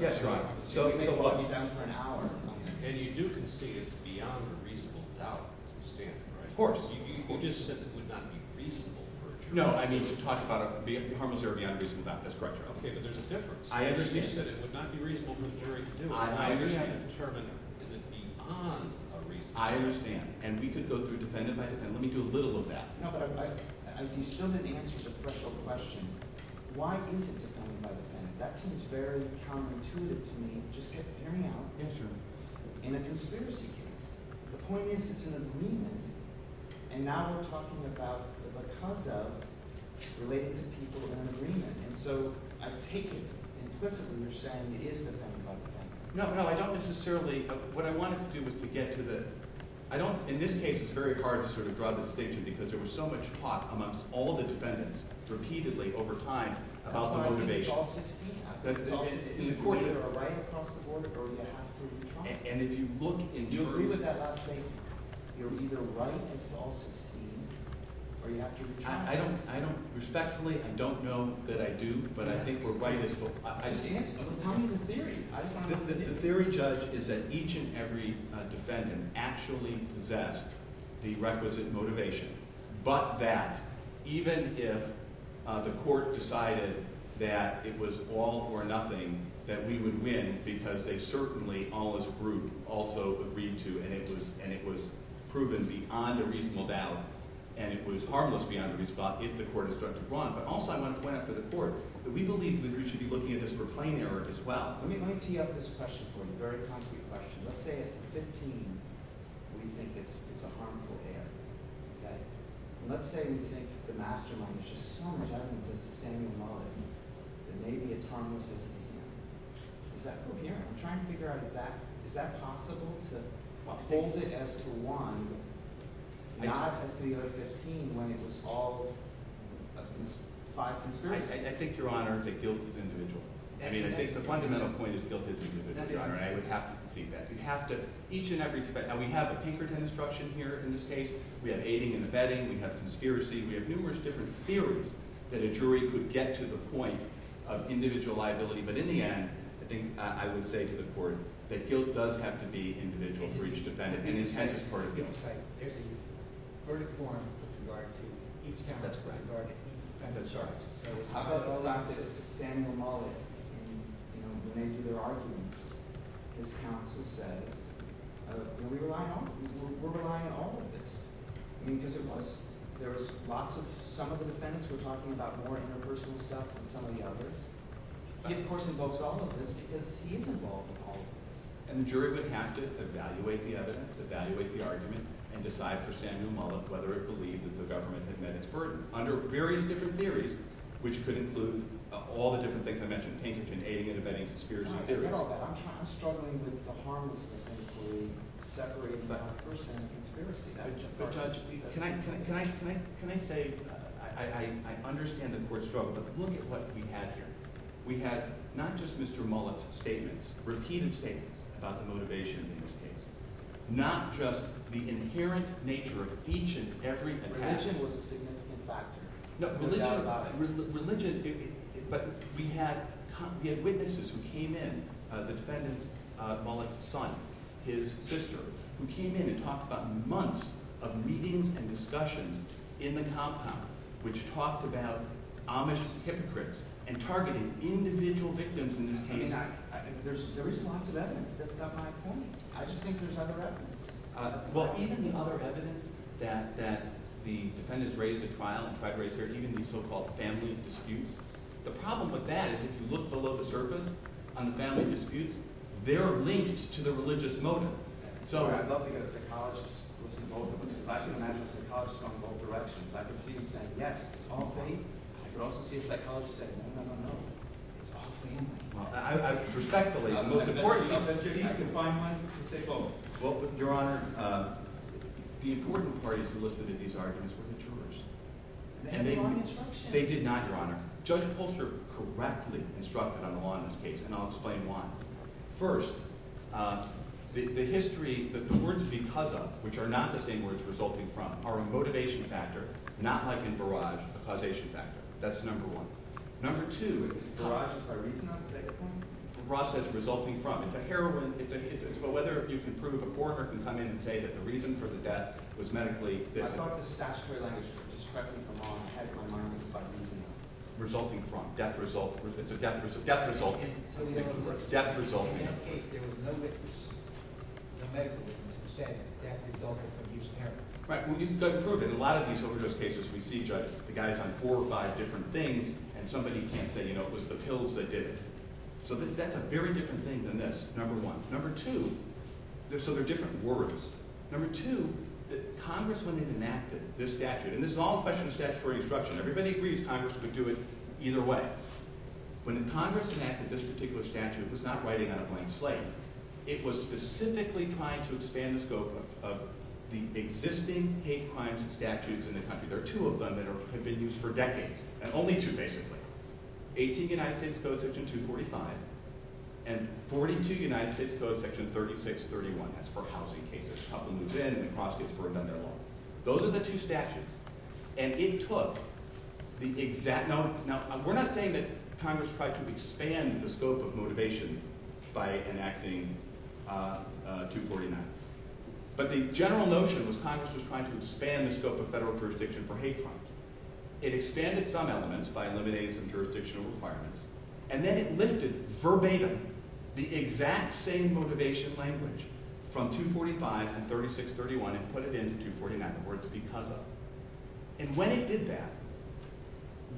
Yes, go ahead It would be a lot of time for an hour And you do concede it's beyond a reasonable doubt Of course You just said it would not be reasonable No, I just talked about it being harm's error beyond reason, that's correct Okay, there's a difference I understand I understand I understand I understand And we could go through the benefit of that Let me do a little of that No, but I assume that the answer to the first question Why is it beyond a reasonable doubt? That seems very counterintuitive to me It's just a very hard issue And it's a serious issue The point is, it's an agreement And now we're talking about what comes out is related to people in an agreement And so I take it implicitly No, no, I don't necessarily What I want to do is to get to the I don't, in this case It's very hard to sort of draw the distinction Because there was so much talk amongst all the defendants Repeatedly over time About the motivation And if you look I don't, I don't Respectfully, I don't know that I do But I think we're right The theory judged is that each and every defendant Actually possessed The requisite motivation But that Even if the court Decided that it was all or nothing That we would win Because they certainly, all this group Also agreed to And it was proven beyond a reasonable doubt And it was harmless Beyond a reasonable doubt If the court is going to run But also I want to point out to the court That we believe the jury should be looking at this for frame error as well Let me tee up this question for you A very concrete question Let's say at 15 What do you think it's a harmful error Let's say we take the mastermind Which in some judgment is the same as ours And maybe it's harmless Is that clear? I'm trying to figure out Is that possible To uphold it as to one Not at 15 When it was all I think your honor that guilt is individual I mean I think the fundamental point is guilt is individual And I would have to concede that We have to, each and every defendant And we have deeper deconstruction here in this case We have aiding and abetting, we have conspiracy We have numerous different theories That a jury could get to the point Of individual liability, but in the end I think I would say to the court That guilt does have to be individual For each defendant And he's making a verdict A verdict form That's correct I thought about this Daniel Mollet When they did their arguments His counsel said We rely on you We're relying on all of this There was lots of Some of the defendants were talking about more universal stuff Than some of the others This person knows all of this Because he's involved in all of this And the jury would have to evaluate the evidence Evaluate the argument And decide for Samuel Mollet whether it believes That the government can bend its burden Under various different theories Which could include all the different things I mentioned Aiding and abetting, conspiracy I'm struggling with the harm Separated by the person Conspiracy Can I say I understand that we're struggling But look at what we had here We had not just Mr. Mollet's statements Routine statements About the motivation Not just the inherent nature Of each and every Religious But we had Witnesses who came in Defendant Mollet's son His sister Who came in and talked about months Of meetings and discussions in the compound Which talked about Amish hypocrites And targeted individual victims I think there's a response to that That's not my point I just think there's other evidence Well even the other evidence That the defendants raised in the trial So-called family disputes The problem with that Is if you look below the surface On the family disputes They're linked to the religious motive So I'd love to get a psychologist Who's involved in this question I'd love to see a psychologist From both directions I'd love to see a psychologist Say no, I don't know Your Honor The important part is The list of these arguments They did not, Your Honor Judge Polster correctly Instructed on the law in this case And I'll explain why First, the history The words because of Which are not the same words resulting from Are a motivation factor Not like in Barrage, a causation factor That's number one Number two The process resulting from The heroin But whether you can prove a court And say that the reason for the death Was medically Resulting from Death resulting Death resulting Death resulting Right, we can go forward In a lot of these overdose cases The guy's on four or five different things And somebody can't say, you know, it was the pills that did it So that's a very different thing Than that's number one Number two, there's other different words Number two, that Congress When it enacted this statute And this is all a question of statutory instruction Everybody agrees Congress would do it either way When the Congress enacted this particular statute It was not writing out a blank slate It was specifically trying to Expand the scope of The existing hate crimes statutes In the country, there are two of them That have been used for decades, and only two basically 18th United States Code Section 245 And 42nd United States Code Section 3631 That's for housing cases To help them move in and the process for amending the law Those are the two statutes And it took The exact, now we're not saying That Congress tried to expand The scope of motivation by Enacting 249 But the general Notion was Congress was trying to expand The scope of federal jurisdiction for hate crimes It expanded some elements by Eliminating some jurisdictional requirements And then it lifted verbatim The exact same Motivation language from 245 And 3631 and put it into 249, or it's because of And when it did that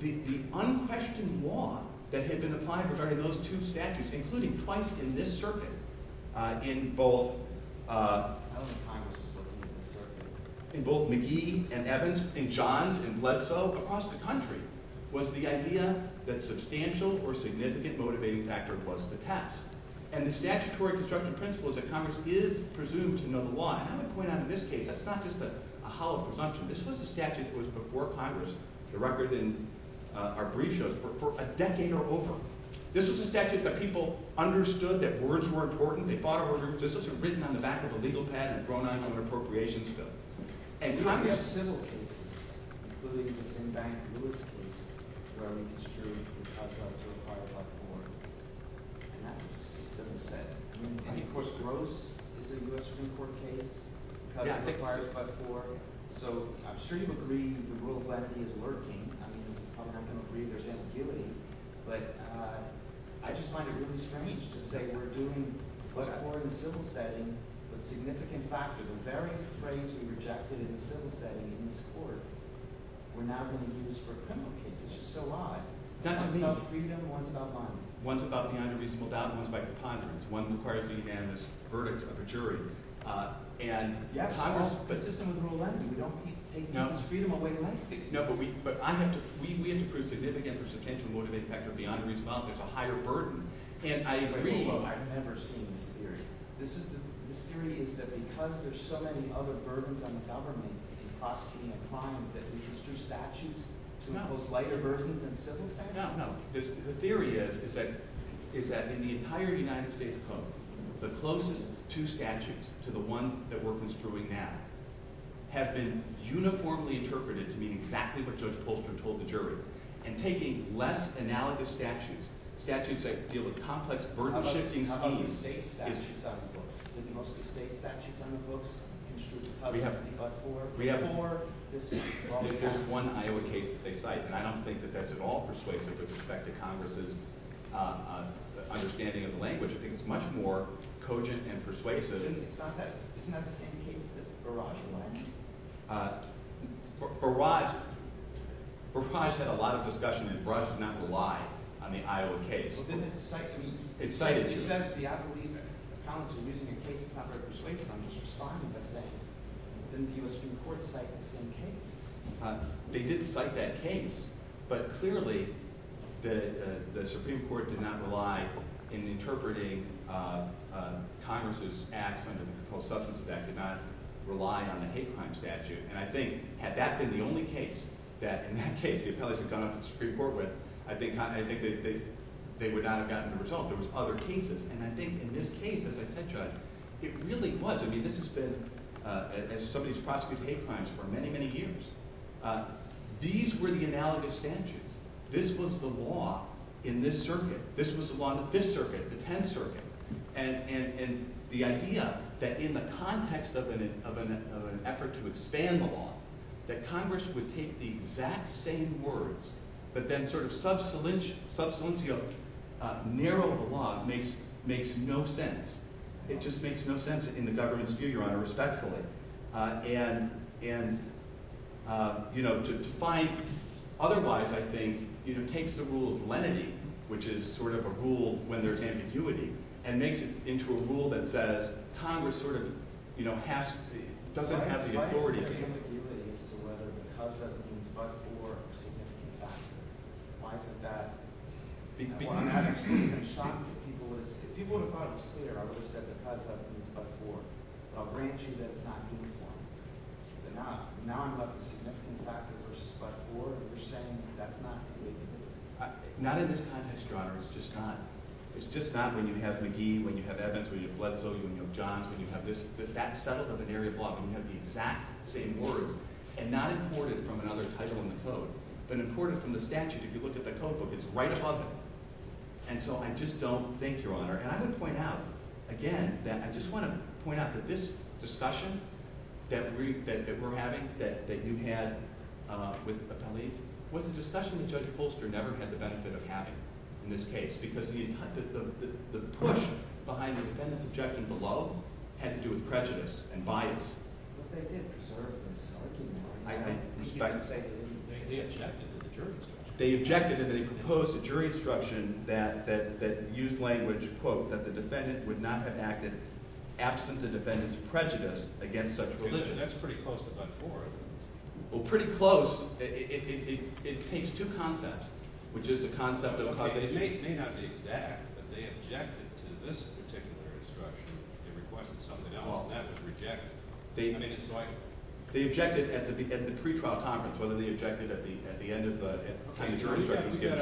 The unquestioned Law that had been applied for Those two statutes, including twice In this circuit In both In both McGee and Evans and Johns And Bledsoe, across the country Was the idea that substantial Or significant motivating factor Was the task, and the statutory Construction principle is that Congress is Presumed to know the law, and I'm going to point out in this case That's not just a hollow presumption This was a statute that was before Congress The record in our brief shows For a decade or over This was a statute that people understood That words were important, they fought over This was written on the back of a legal pad and thrown Out on an appropriations bill And Congress facilitated Including, in fact, It was a very extreme Object to require a lot more And that was said And of course gross This is a U.S. Supreme Court case Because it requires about four So I'm extremely aggrieved that the rule of Legally is working I don't know if we understand the feeling But I just find it Intimidating to say we're doing But more in civil settings Significant factors, very strangely Rejected in civil settings in this court And now in the Ministry of Criminal Justice, it's a lie That's what we all agree on, the ones about The ones about Commander Rees-Muldoon One requires unanimous Verdict of the jury And Congress But we don't think No, but we We have to prove significant That Commander Rees-Muldoon is a higher burden And I agree But I don't understand the theory The theory is that because there's so many Other burdens on the government In prosecuting a crime, that it is Through statute to not look like a burden And so, I don't know The theory is that In the entire United States The closest two statutes To the one that we're construing now Have been uniformly Interpreted to be exactly What it's supposed to hold for the jury And taking less analogous statutes Statutes that deal with complex Burdens on the state We have more There's one higher case And I don't think that that's at all persuasive With respect to Congress's Understanding of the language It's much more cogent and persuasive It's not that It's Barrage Barrage Barrage had a lot of Discussion and Barrage did not rely On the Iowa case It's cited The Iowa case They did cite that case But clearly The Supreme Court did not rely In interpreting Congress's act The Substance Abuse Act did not Rely on a hate crime statute And I think, had that been the only case That in that case the appellation had gone up to the Supreme Court I think They would not have gotten the result There was other cases And I think in this case, as a head judge It really was, I mean this has been As somebody who's prosecuted hate crimes For many, many years These were the analogous statutes This was the law In this circuit, this was the law in this circuit The Penn Circuit And the idea that in the context Of an effort To expand the law That Congress would take the exact same words But then sort of Substantially Narrow the law makes no sense It just makes no sense In the government's view, your honor, respectfully And You know, to find Otherwise, I think It takes the rule of lenity Which is sort of a rule when there's ambiguity And makes it into a rule that says Congress sort of Has to see, doesn't have the authority There's a very ambiguity as to whether Because that was in Part 4 Why is it that I want to have a statement If people would have thought it was clear I would have said because that was in Part 4 So I'll grant you that time But not In Part 4 You're saying that that's not the case Not at this time, Mr. Honor It's just not When you have McGee, when you have Evans When you have Wetzel, when you have Johnson When you have this, if that's set up as an area of law Then you have the exact same order And not imported from another title in the tote But imported from the statute If you look at the tote book, it's right above it And so I just don't think, your honor And I want to point out, again That I just want to point out that this Discussion that we're having That they do have With the Discussion that Judge Polster never had the benefit of having In this case Because the push Behind the defendant's objection below Had to do with prejudice and bias But they did I understand They objected to the jury's instruction They objected to the proposed jury instruction That used language Quote, that the defendant would not have acted Absent the defendant's prejudice Against such religion That's pretty close to Part 4 Pretty close It takes two concepts Which is the concept of They objected To this particular instruction They objected They objected At the pre-trial conference They objected at the end of The jury's recommendation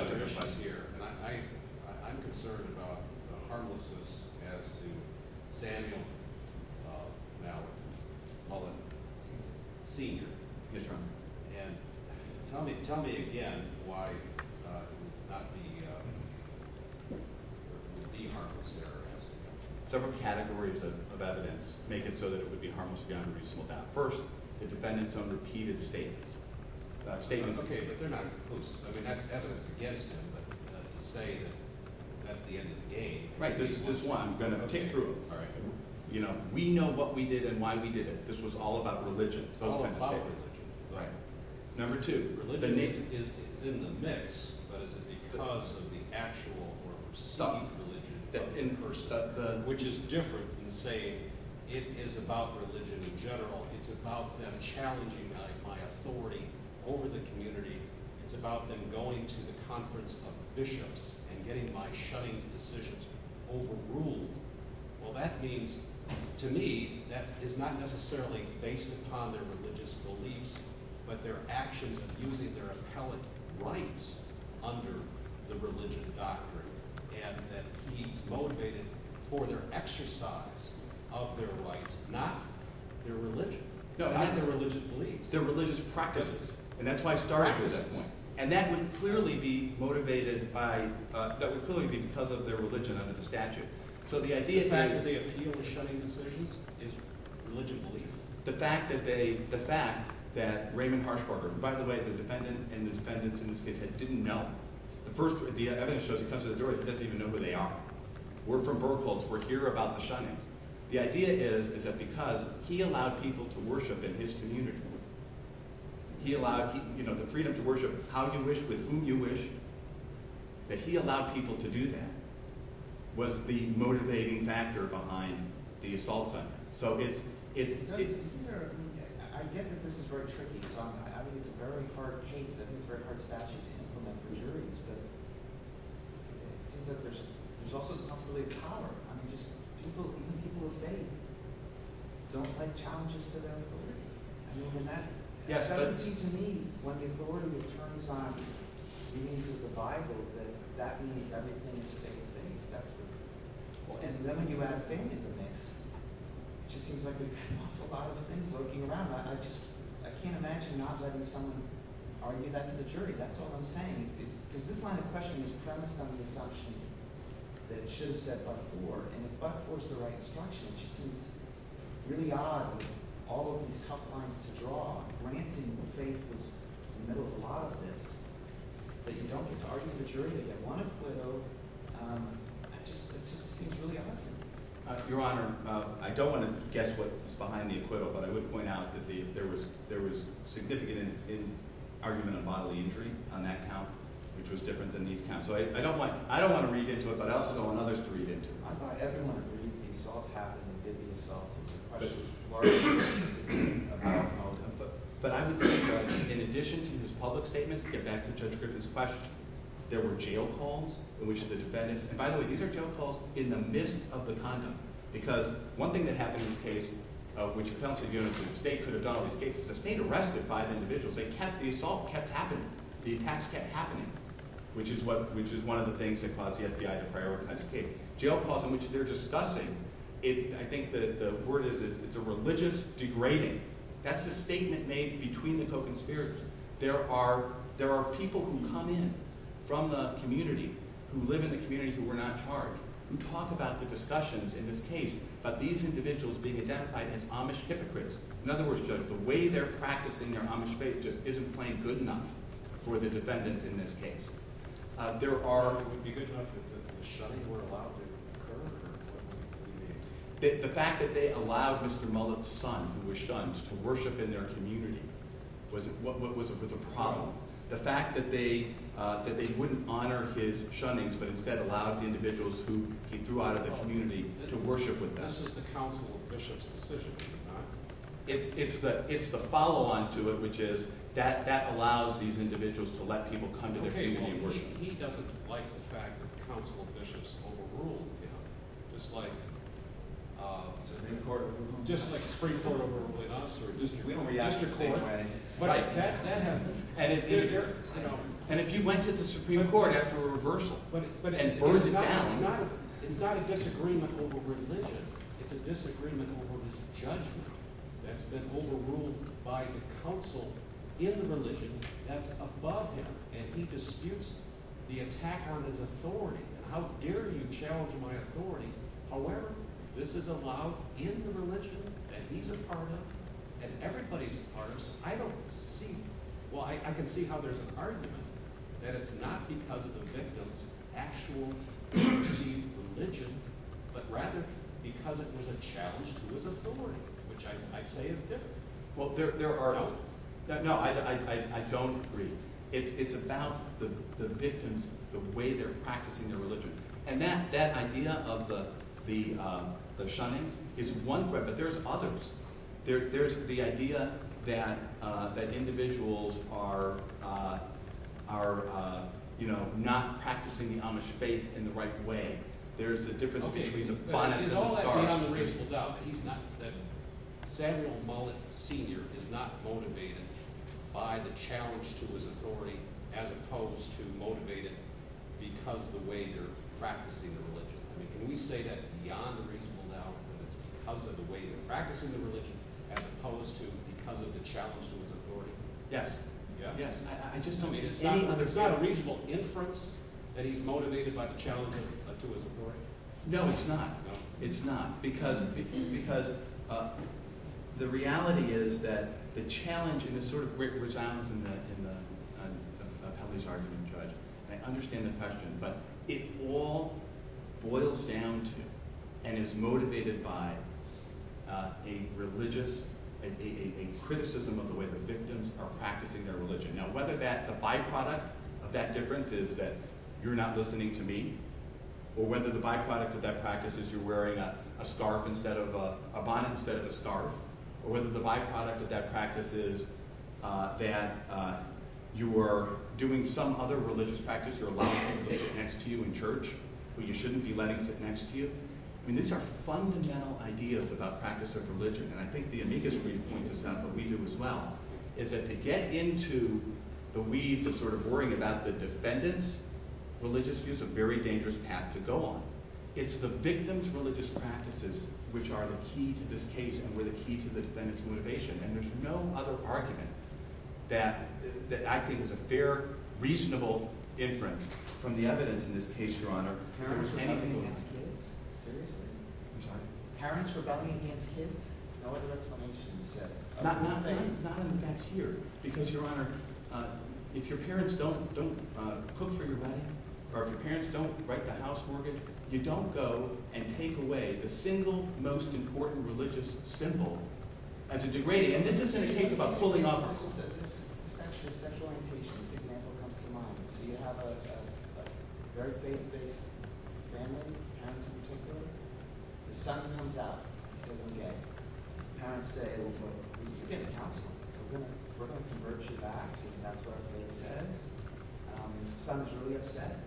I'm concerned about Harmlessness As to Samuel Now Senior Tell me Tell me again Why Not the Harmless Some categories of evidence Make it so that it would be harmless First, the defendant's own Repeated statements Okay, but they're not Against him At the end of the day This is what I'm going to take through You know, we know what we did And why we did it This was all about religion All about religion Number two, religion is In the mix Because of the actual Or some religion Which is different than saying It is about religion in general It's about them challenging My authority over the community It's about them going to The conference of bishops And getting my shunning positions Overruled Well that means, to me That it's not necessarily based Upon their religious beliefs But their actions of using their Appellate rights Under the religion doctrine And that he's motivated For the exercise Of their rights, not Their religion, not their religious beliefs Their religious practices And that's why I started with that one And that would clearly be motivated by That would clearly be because of their religion And the statute So the idea The fact that they The fact that Raymond Parsh By the way, the defendants Didn't know The evidence shows that he doesn't even know who they are We're from Burlesque We're here about the shunning The idea is that because he allowed people To worship in his community He allowed, you know, the freedom To worship how you wish, with whom you wish That he allowed people to do that Was the motivating Factor behind the assault On him So it's I get that this is very tricky I mean it's a very hard case And it's a very hard statute to implement But there's also Something really hard I mean, people Don't take challenges to them I mean, and that To me, when they go And it turns on Reading through the bible That means everything And then you add A lot of things A lot of things I can't imagine Not letting someone argue That's the jury, that's what I'm saying Is this kind of question That should have been said by the court And it was, of course, the right question Which is really odd All of these headlines Drawing, ranting, and faces And then a lot of this That you don't need to argue the jury They want acquittal It's really odd Your honor, I don't want to guess What's behind the acquittal But I would point out that there was Significant argument of bodily injury On that account Which was different than these times So I don't want to read into it But I also don't want others to read into it I don't want to read into the assault Or the jury But I would point out In addition to this public statement To get back to Judge Griffin's question There were jail calls By the way, these are jail calls In the midst of the content Because one thing that happened in this case Which accounts to the state The state arrested five individuals The assault kept happening The attacks kept happening Which is one of the things that caused the FBI To prioritize the case Jail calls in which they're discussing I think the word is It's a religious degrading That's a statement made between the co-conspirators There are There are people who come in From the community Who live in the community who were not charged Who talk about the discussions in this case Of these individuals being identified as Amish hypocrites In other words, Judge The way they're practicing their Amish faith Just isn't plain good enough For the defendant in this case There are The fact that they allowed Mr. Mullins son who was shunned To worship in their community Was a problem The fact that they That they wouldn't honor his shunning But instead allowed the individuals Who he threw out of the community To worship with That's just the counsel of Bishop's decision It's the follow on to it Which is that that allows These individuals to let people Come to the community He doesn't like the fact that The counsel of Bishop is overruled It's like Supreme Court Just like Supreme Court overruled us We don't get out of court That happens And if you went to the Supreme Court After a reversal It's not a disagreement over religion It's a disagreement Over the judgment That's been overruled by the counsel In religion That's above him And he disputes the attack On his authority How dare you challenge my authority However this is allowed in religion And he's a part of it And everybody's part I don't see Well I can see how there's argument That it's not because of the defendant's actual Religion But rather because it was a challenge To his authority Which I say is different Well there are No I don't agree It's about the victims The way they're practicing the religion And that idea of the The shunnings Is one threat but there's others There's the idea that That individuals are Are You know not practicing The Amish faith in the right way There's a difference between the The original Mullet Sr. Is not motivated by the challenge To his authority As opposed to motivated Because of the way they're practicing the religion Can we say that beyond the reasonable doubt That it's because of the way They're practicing the religion As opposed to because of the challenge To his authority It's not a reasonable inference That he's motivated by the challenge To his authority No it's not It's not Because The reality is that The challenge Resounds I understand the question But it all Boils down to And is motivated by A religious A criticism of the way the victims Are practicing their religion Now whether that's a byproduct of that difference Is that you're not listening to me Or whether the byproduct of that practice Is that you're wearing a scarf instead of a A bonnet instead of a scarf Or whether the byproduct of that practice is That You were doing some other religious practice You're allowed to take against you in church But you shouldn't be letting it against you I mean these are fundamental Ideas about practice of religion And I think the amicus reading Is that to get into The weeds of sort of Worrying about the defendant's Religious view is a very dangerous act to go on It's the victim's religious practices Which are the key to this case And were the key to the defendant's motivation And there's no other argument That Is a fair, reasonable inference From the evidence in this case, your honor Parents are not going to be against kids Seriously Parents are not going to be against kids That's what my student said Not in the next year Because your honor If your parents don't Put through your money Or if your parents don't write a house mortgage You don't go and take away The single most important religious symbol As a degrading And this isn't a case about fully offering It's actually a special occasion If your parents don't have to come on So you have a very big Family The son comes out And then again As a Big counselor We're going to convert you back That's what I said The son's really upset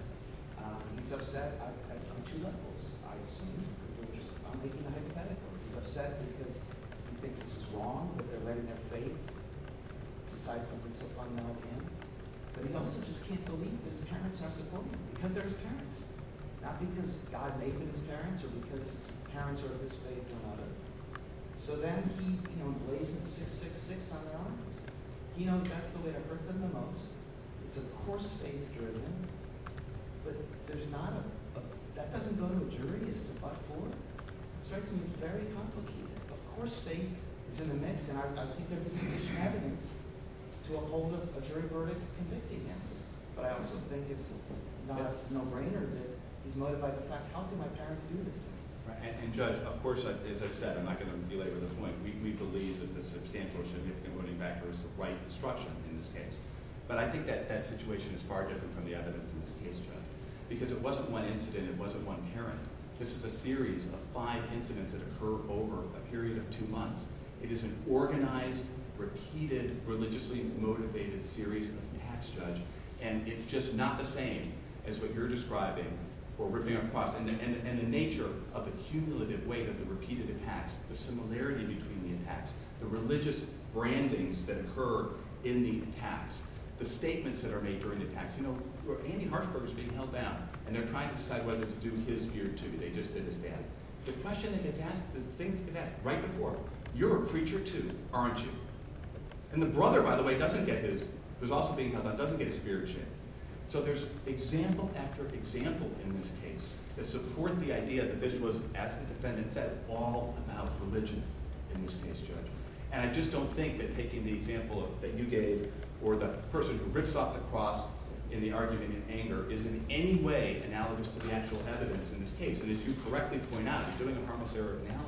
He just said I've done two levels I've said He thinks it's wrong That they're letting their faith Decide to bring someone like him And he also just can't believe his parents have to come Because there's parents Not because God made his parents Or because parents are at least faithful So that He just sits on his arms He knows Of course There's not That doesn't Go to the jury It's very complicated Of course It's in the midst of A jury verdict But I also think It's no brainer But if I talk to my parents Of course I'm not going to Relate to the point We believe But I think that Situation is far different Because it wasn't one Incident, it wasn't one parent This is a series of five incidents That occur over a period of two months It is an organized, repeated Religiously motivated series And it's just not The same as what you're describing And the nature Of the cumulative weight of the repeated Attacks, the similarity between The attacks, the religious Brandings that occur in the Attacks, the statements that are made During the attacks, you know, Andy Hartford Is being held down, and they're trying to decide Whether to do his gear too, they just didn't stand The question is if that's the thing You can ask right before, you're a preacher too Aren't you? And the brother, by the way, doesn't get his Who's also being held down, doesn't get his gear changed So there's example after Example in this case That support the idea that this was, as the defendant Said, all about religion In this case, Judge And I just don't think that taking the example That you gave, or the person who Rips off the cross in the argument In anger, is in any way analogous To the actual evidence in this case And as you correctly point out, it's really the promissory note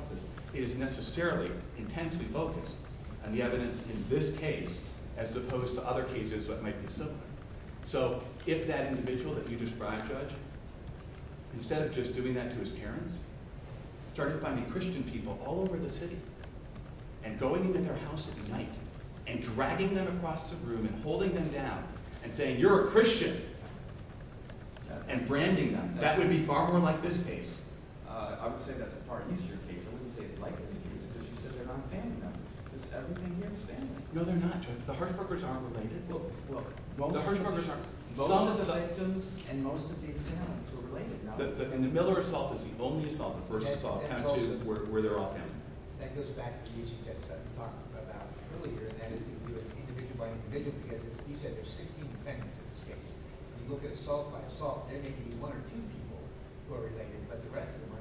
That is necessarily Intensely focused on the evidence In this case, as opposed to Other cases that might be similar So, if that individual, if you describe Judge, instead of just Doing that to his parents Trying to find Christian people all over the city And going into their house At night, and dragging them Across the room, and holding them down And saying, you're a Christian And branding them That would be far more like this case I would say that's a far easier case I wouldn't say it's quite as easy as this Because they're not paying them It's everything you understand No, they're not, Judge, the hard covers aren't related No, the hard covers aren't Most of the items, and most of the accounts Are related, no Miller Assault is the only assault Versus assault, and that's where they're all happening That goes back to what you just said About earlier, that individual By visiting him, he said there's 16 Pennies in the state, and you look at Assault by assault, then maybe you want to change More, or you have to address it more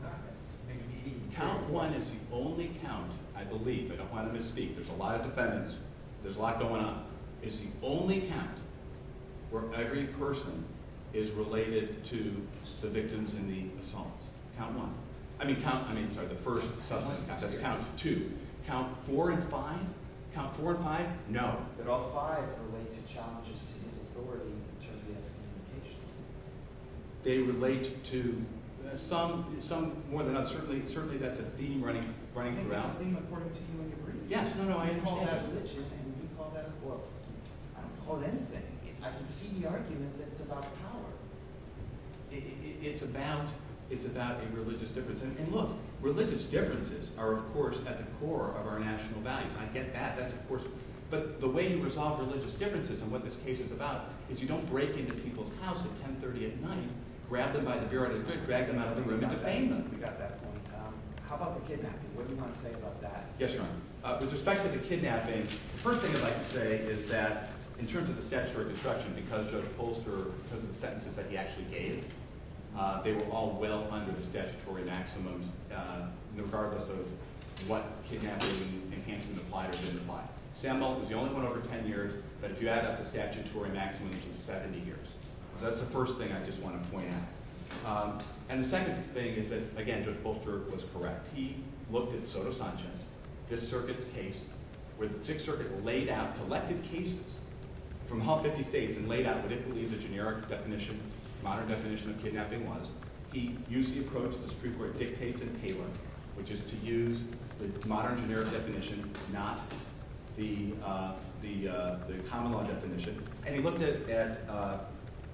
Count one is you only Count, I believe, I don't want to misspeak There's a lot of defendants, there's a lot going on It's the only count Where every person Is related to The victims in the assaults Count one, I mean, count, I'm sorry, the first Subject, count two Count four and five, count four and five No, but all five Are related charges to the authority They relate to Some, more than us Certainly that's a theme running Throughout Yes, no, no, I It's about Religious differences, and look Religious differences are, of course, at the core Of our national values, and I get that But the way you resolve religious Differences, and what this case is about Is you don't break into people's houses At 10.30 at night, grab them by the beard Exactly How about the kidnapping? What do you want to say about that? With respect to the kidnapping The first thing I'd like to say is that In terms of the statute of obstruction Because of the sentences that he actually gave They were all well under The statutory maximum Regardless of what Kidnapping means, enhancing the plight Samuels is the only one over 10 years But if you add up the statutory maximum It's 70 years So that's the first thing I just want to point out And the second thing Is that, again, Judge Bolster was correct He looked at Soto Sanchez This circuit's case Where the Sixth Circuit laid out Collective cases from all 50 states And laid out what the generic definition Modern definition of kidnapping was He used the approach of the Supreme Court Dictates in Taylor, which is to use The modern generic definition Not the Common law definition And he looked at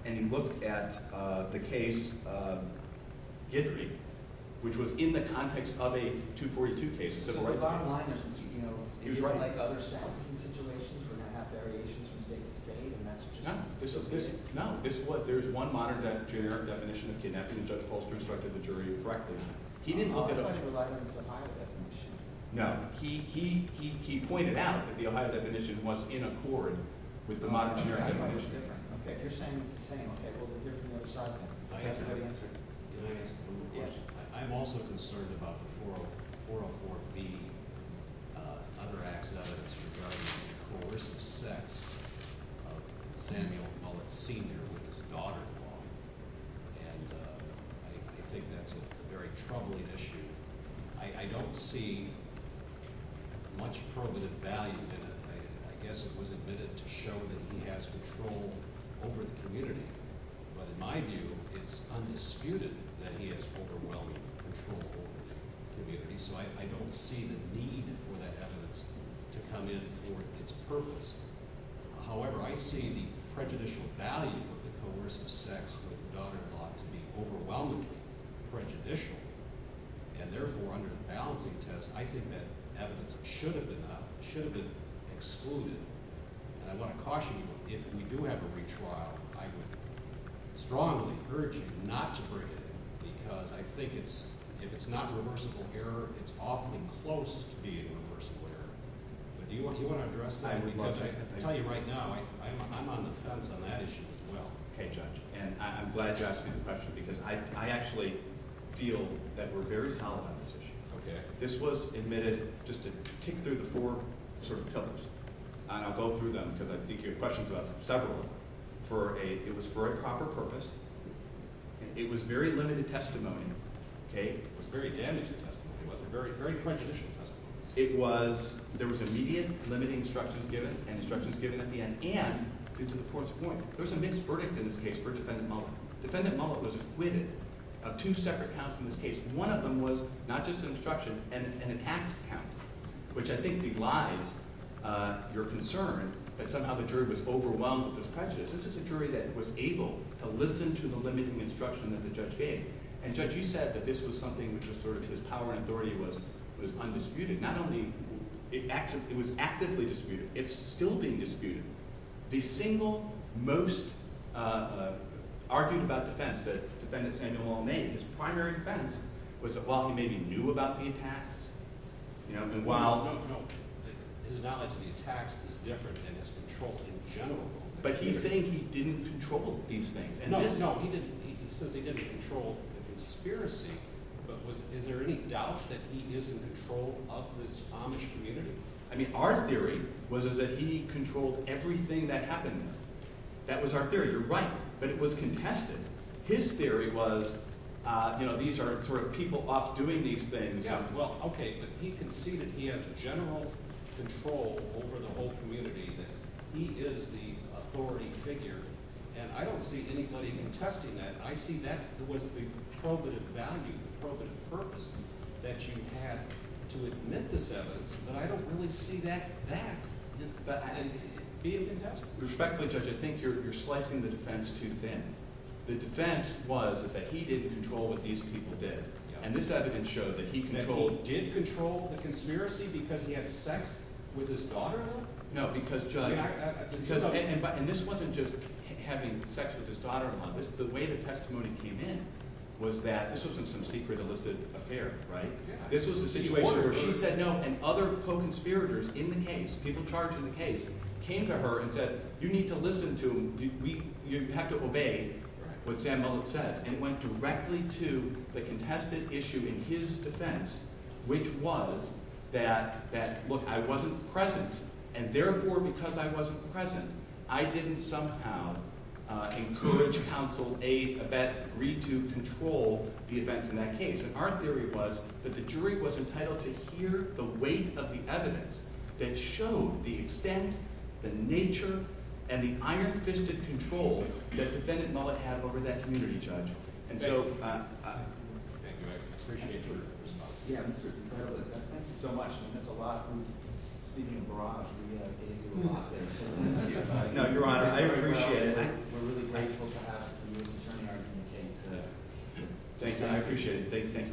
And he looked at the case Gidley Which was in the context of a 242 case He was right No, there's one Modern generic definition of kidnapping Judge Bolster instructed the jury to write this He didn't look at it No, he He pointed out that the Ohio definition Was in accord with the modern Generic definition I'm also concerned about 404B Under access In terms of the Sex of a decennial Public senior with his daughter And I think that's a very troubling Issue I don't see Much Permanent value To show that he has Control over the community But in my view It's undisputed that he has Overwhelming control over the community So I don't see the need For that evidence to come in In order to its purpose However, I see the prejudicial value Of the coercive sex Of the daughter-in-law to be overwhelming And prejudicial And therefore under the penalty test I think that evidence should have been Excluded I want to caution you If we do have a free trial I strongly urge you Not to bring it Because I think it's If it's not a reversible error It's often close to being a reversible error Do you want to address that? I tell you right now I'm on the fence on that issue as well And I'm glad you're asking the question Because I actually feel That we're very tolerant on this issue This was admitted Just to kick through the four pillars I won't go through them Because I think you have questions about several It was for a proper purpose It was very limited testimony It was very damaging testimony It was a very prejudicial testimony It was There was immediate limiting instructions given And instructions given at the end And, this is the fourth point There was a mixed verdict in this case For Defendant Mullen Defendant Mullen was acquitted Of two separate counts in this case One of them was not just an instruction And an axe count Which I think elides your concern That somehow the jury was overwhelmed This is a jury that was able To listen to the limiting instruction That the judge gave And judge you said that this was something Which was sort of his power and authority Was undisputed Not only, it was actively disputed It's still being disputed The single most Arguing about defense Defendant Samuel Mullen His primary defense Was that while he maybe knew about the attacks You know It's not like the attacks Is different than his control in general But he's saying he didn't control These things He says he didn't control the conspiracy Is there any doubt That he is in control of this Omni-community Our theory was that he controlled Everything that happened That was our theory But it was contested His theory was These are people off doing these things But he can see that he has General control over the whole community He is the Authority figure And I don't see anybody contesting that I see that as the probative value The probative purpose That you have to admit this evidence But I don't really see that As being contested Respectfully Judge I think you're slicing the defense too thin The defense was that he didn't control What these people did And this evidence showed that he did control The conspiracy because he had sex With his daughter No because Judge And this wasn't just having sex With his daughter The way the testimony came in Was that this wasn't some secret Illicit affair She said no and other Co-conspirators in the case Came to her and said You need to listen to You have to obey And it went directly to The contested issue in his defense Which was That look I wasn't present And therefore because I wasn't present I didn't somehow Encourage counsel To control The events in that case Our theory was that the jury was entitled To hear the weight of the evidence That showed the extent The nature And the iron fisted control That defendant Mullet had over that community judge And so Thank you Thank you so much There's a lot of people speaking Broadly I appreciate it Thank you I appreciate it Thank you I appreciate it Thank you Thank you Thank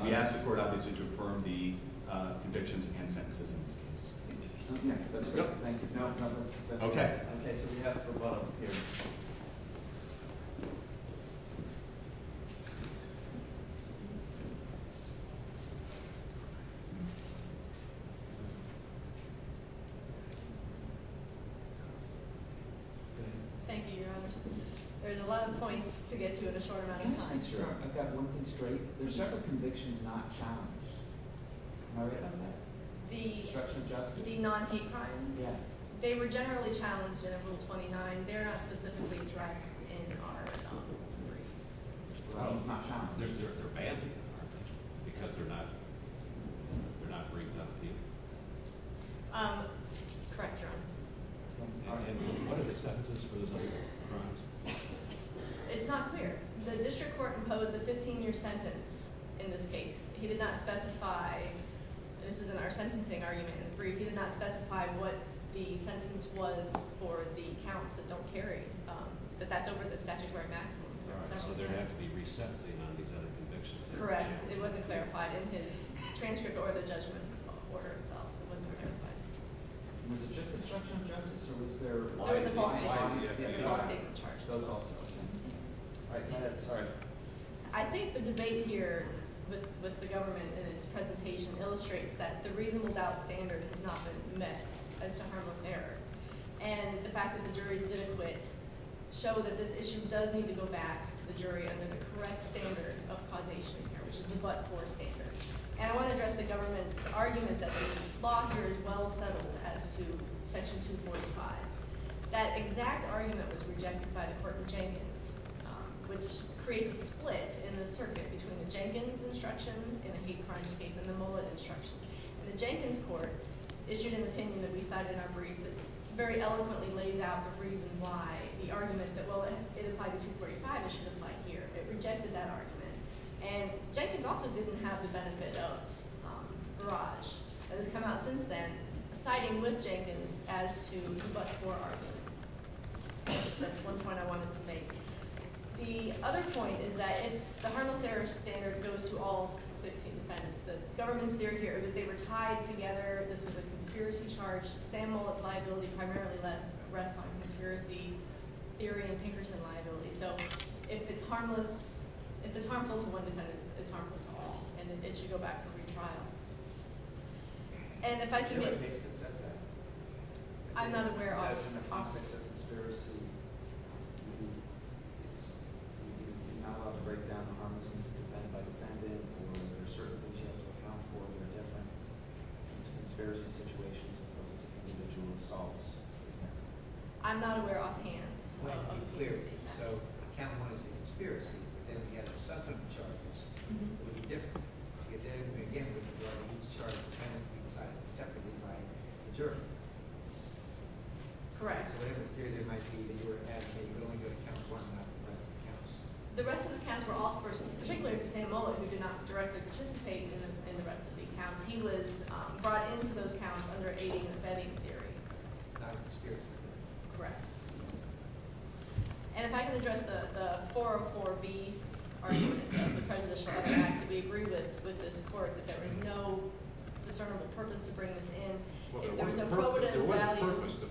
you Okay Thank you Thank you There's a lot of points to get to in a short amount of time I'm not sure The separate conviction is not challenged Are we on that? The non hate crimes Yeah They were generally challenged in rule 29 They're not specifically addressed in our Problem Not challenged Because we're not We're not bringing them to you Correct It's not clear The district court imposed a 15 year sentence In this case He did not specify This is our sentencing argument He did not specify what the sentence was For the counts that don't carry But that's over the statutory maximum Correct It wasn't clarified In the transcript or the judgment I think the debate here With the government Illustrates that the reason without standards Has not been met And the fact that the jury Did it with Showed that this issue does need to go back To the jury And the correct standard of causation Which is what court standards And I want to address the government's argument That the law here is well settled As to section 245 That exact argument Was rejected by the court of Jenkins Which created a split In the circuit between the Jenkins instructions And the hate crimes case And the Mullen instructions The Jenkins court issued an opinion That we cite in our brief That very eloquently laid out the reason why And the argument said Well, it's section 245 It rejected that argument And Jenkins also didn't have the benefit of Barrage And it's come out since then Citing with Jenkins As to much more argument That's one point I wanted to make The other point is that The Arnold-Harris standard goes to all The consents The government's theory here Is that they were tied together And that there is a security charge And more liability primarily Less rests on security Theory of Peterson liability So if it's harmless If it's harmful to one, it's harmless to all And it should go back to the trial And if I can I'm unaware I was in the process of Conspiracy To not upgrade That policy As I said I'm not aware of that It's an embarrassing situation Individual assault I'm not aware of that Well, clearly So, I can't run into conspiracy And we can't suspect each other It's different It's a separate thing That's certainly Correct But I'm not clear If you're actually going to The rest of the county For all persons in particular And all of you not directly participating In the rest of the county He was brought into the county under a Defending theory Correct And if I can address The 404B Argument against the presidential Act, we agree with the court That there was no Determined purpose to bring it in The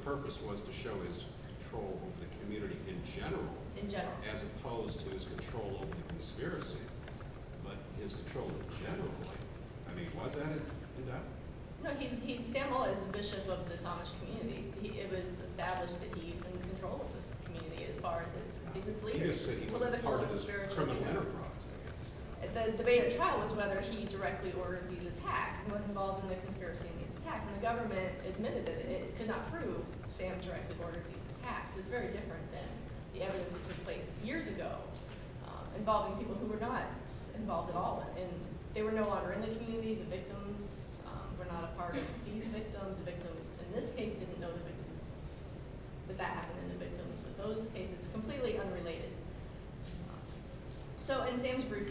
purpose was to show That there was control of the community In general As opposed to His control of the conspiracy But his control in general I mean, was that No, he did not It was established that he Was in control of the community As far as people believe It was part of his criminal The debate itself Whether he directed or Was involved in the conspiracy The government admitted It did not prove It was very different Years ago Involving people who were not Involved at all They were no longer in the community Victims In this case The victims Completely unrelated So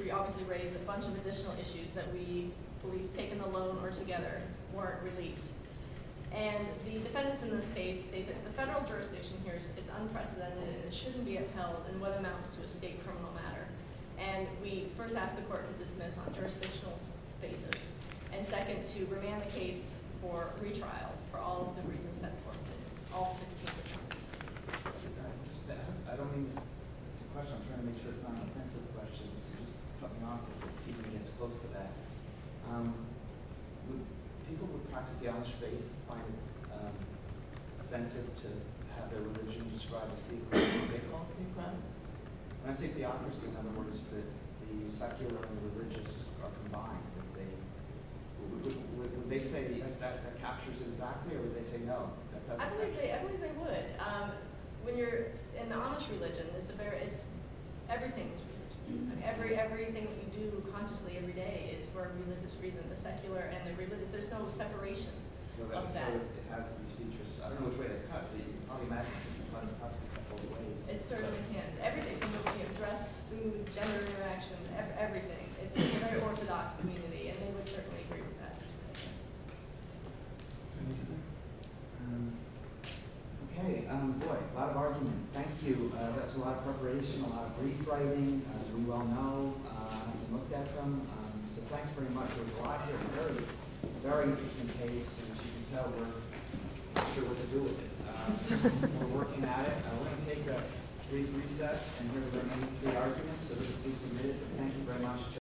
We also raised a bunch Of additional issues that we Taken alone or together Weren't released And the defendants in this case The federal jurisdiction here It's unprecedented, it shouldn't be What amounts to a state criminal matter And we bring that to the court On jurisdictional basis And second, to revamp the case For retrial for all of the reasons set forth I don't think I'm trying to make sure I've answered the question But I'm not even getting close to that People who practice the honest faith Find it offensive To have their religion described As being a political crime And I think the obvious Is that the secular and the religious Are combined When they say the effect That captures the secular, they say no I would say good When you're in the honest religion Everything is huge Everything you do Constantly, every day Is for a religious reason There's no separation It certainly can Everything Gender interaction, everything It's a very orthodox community Thank you very much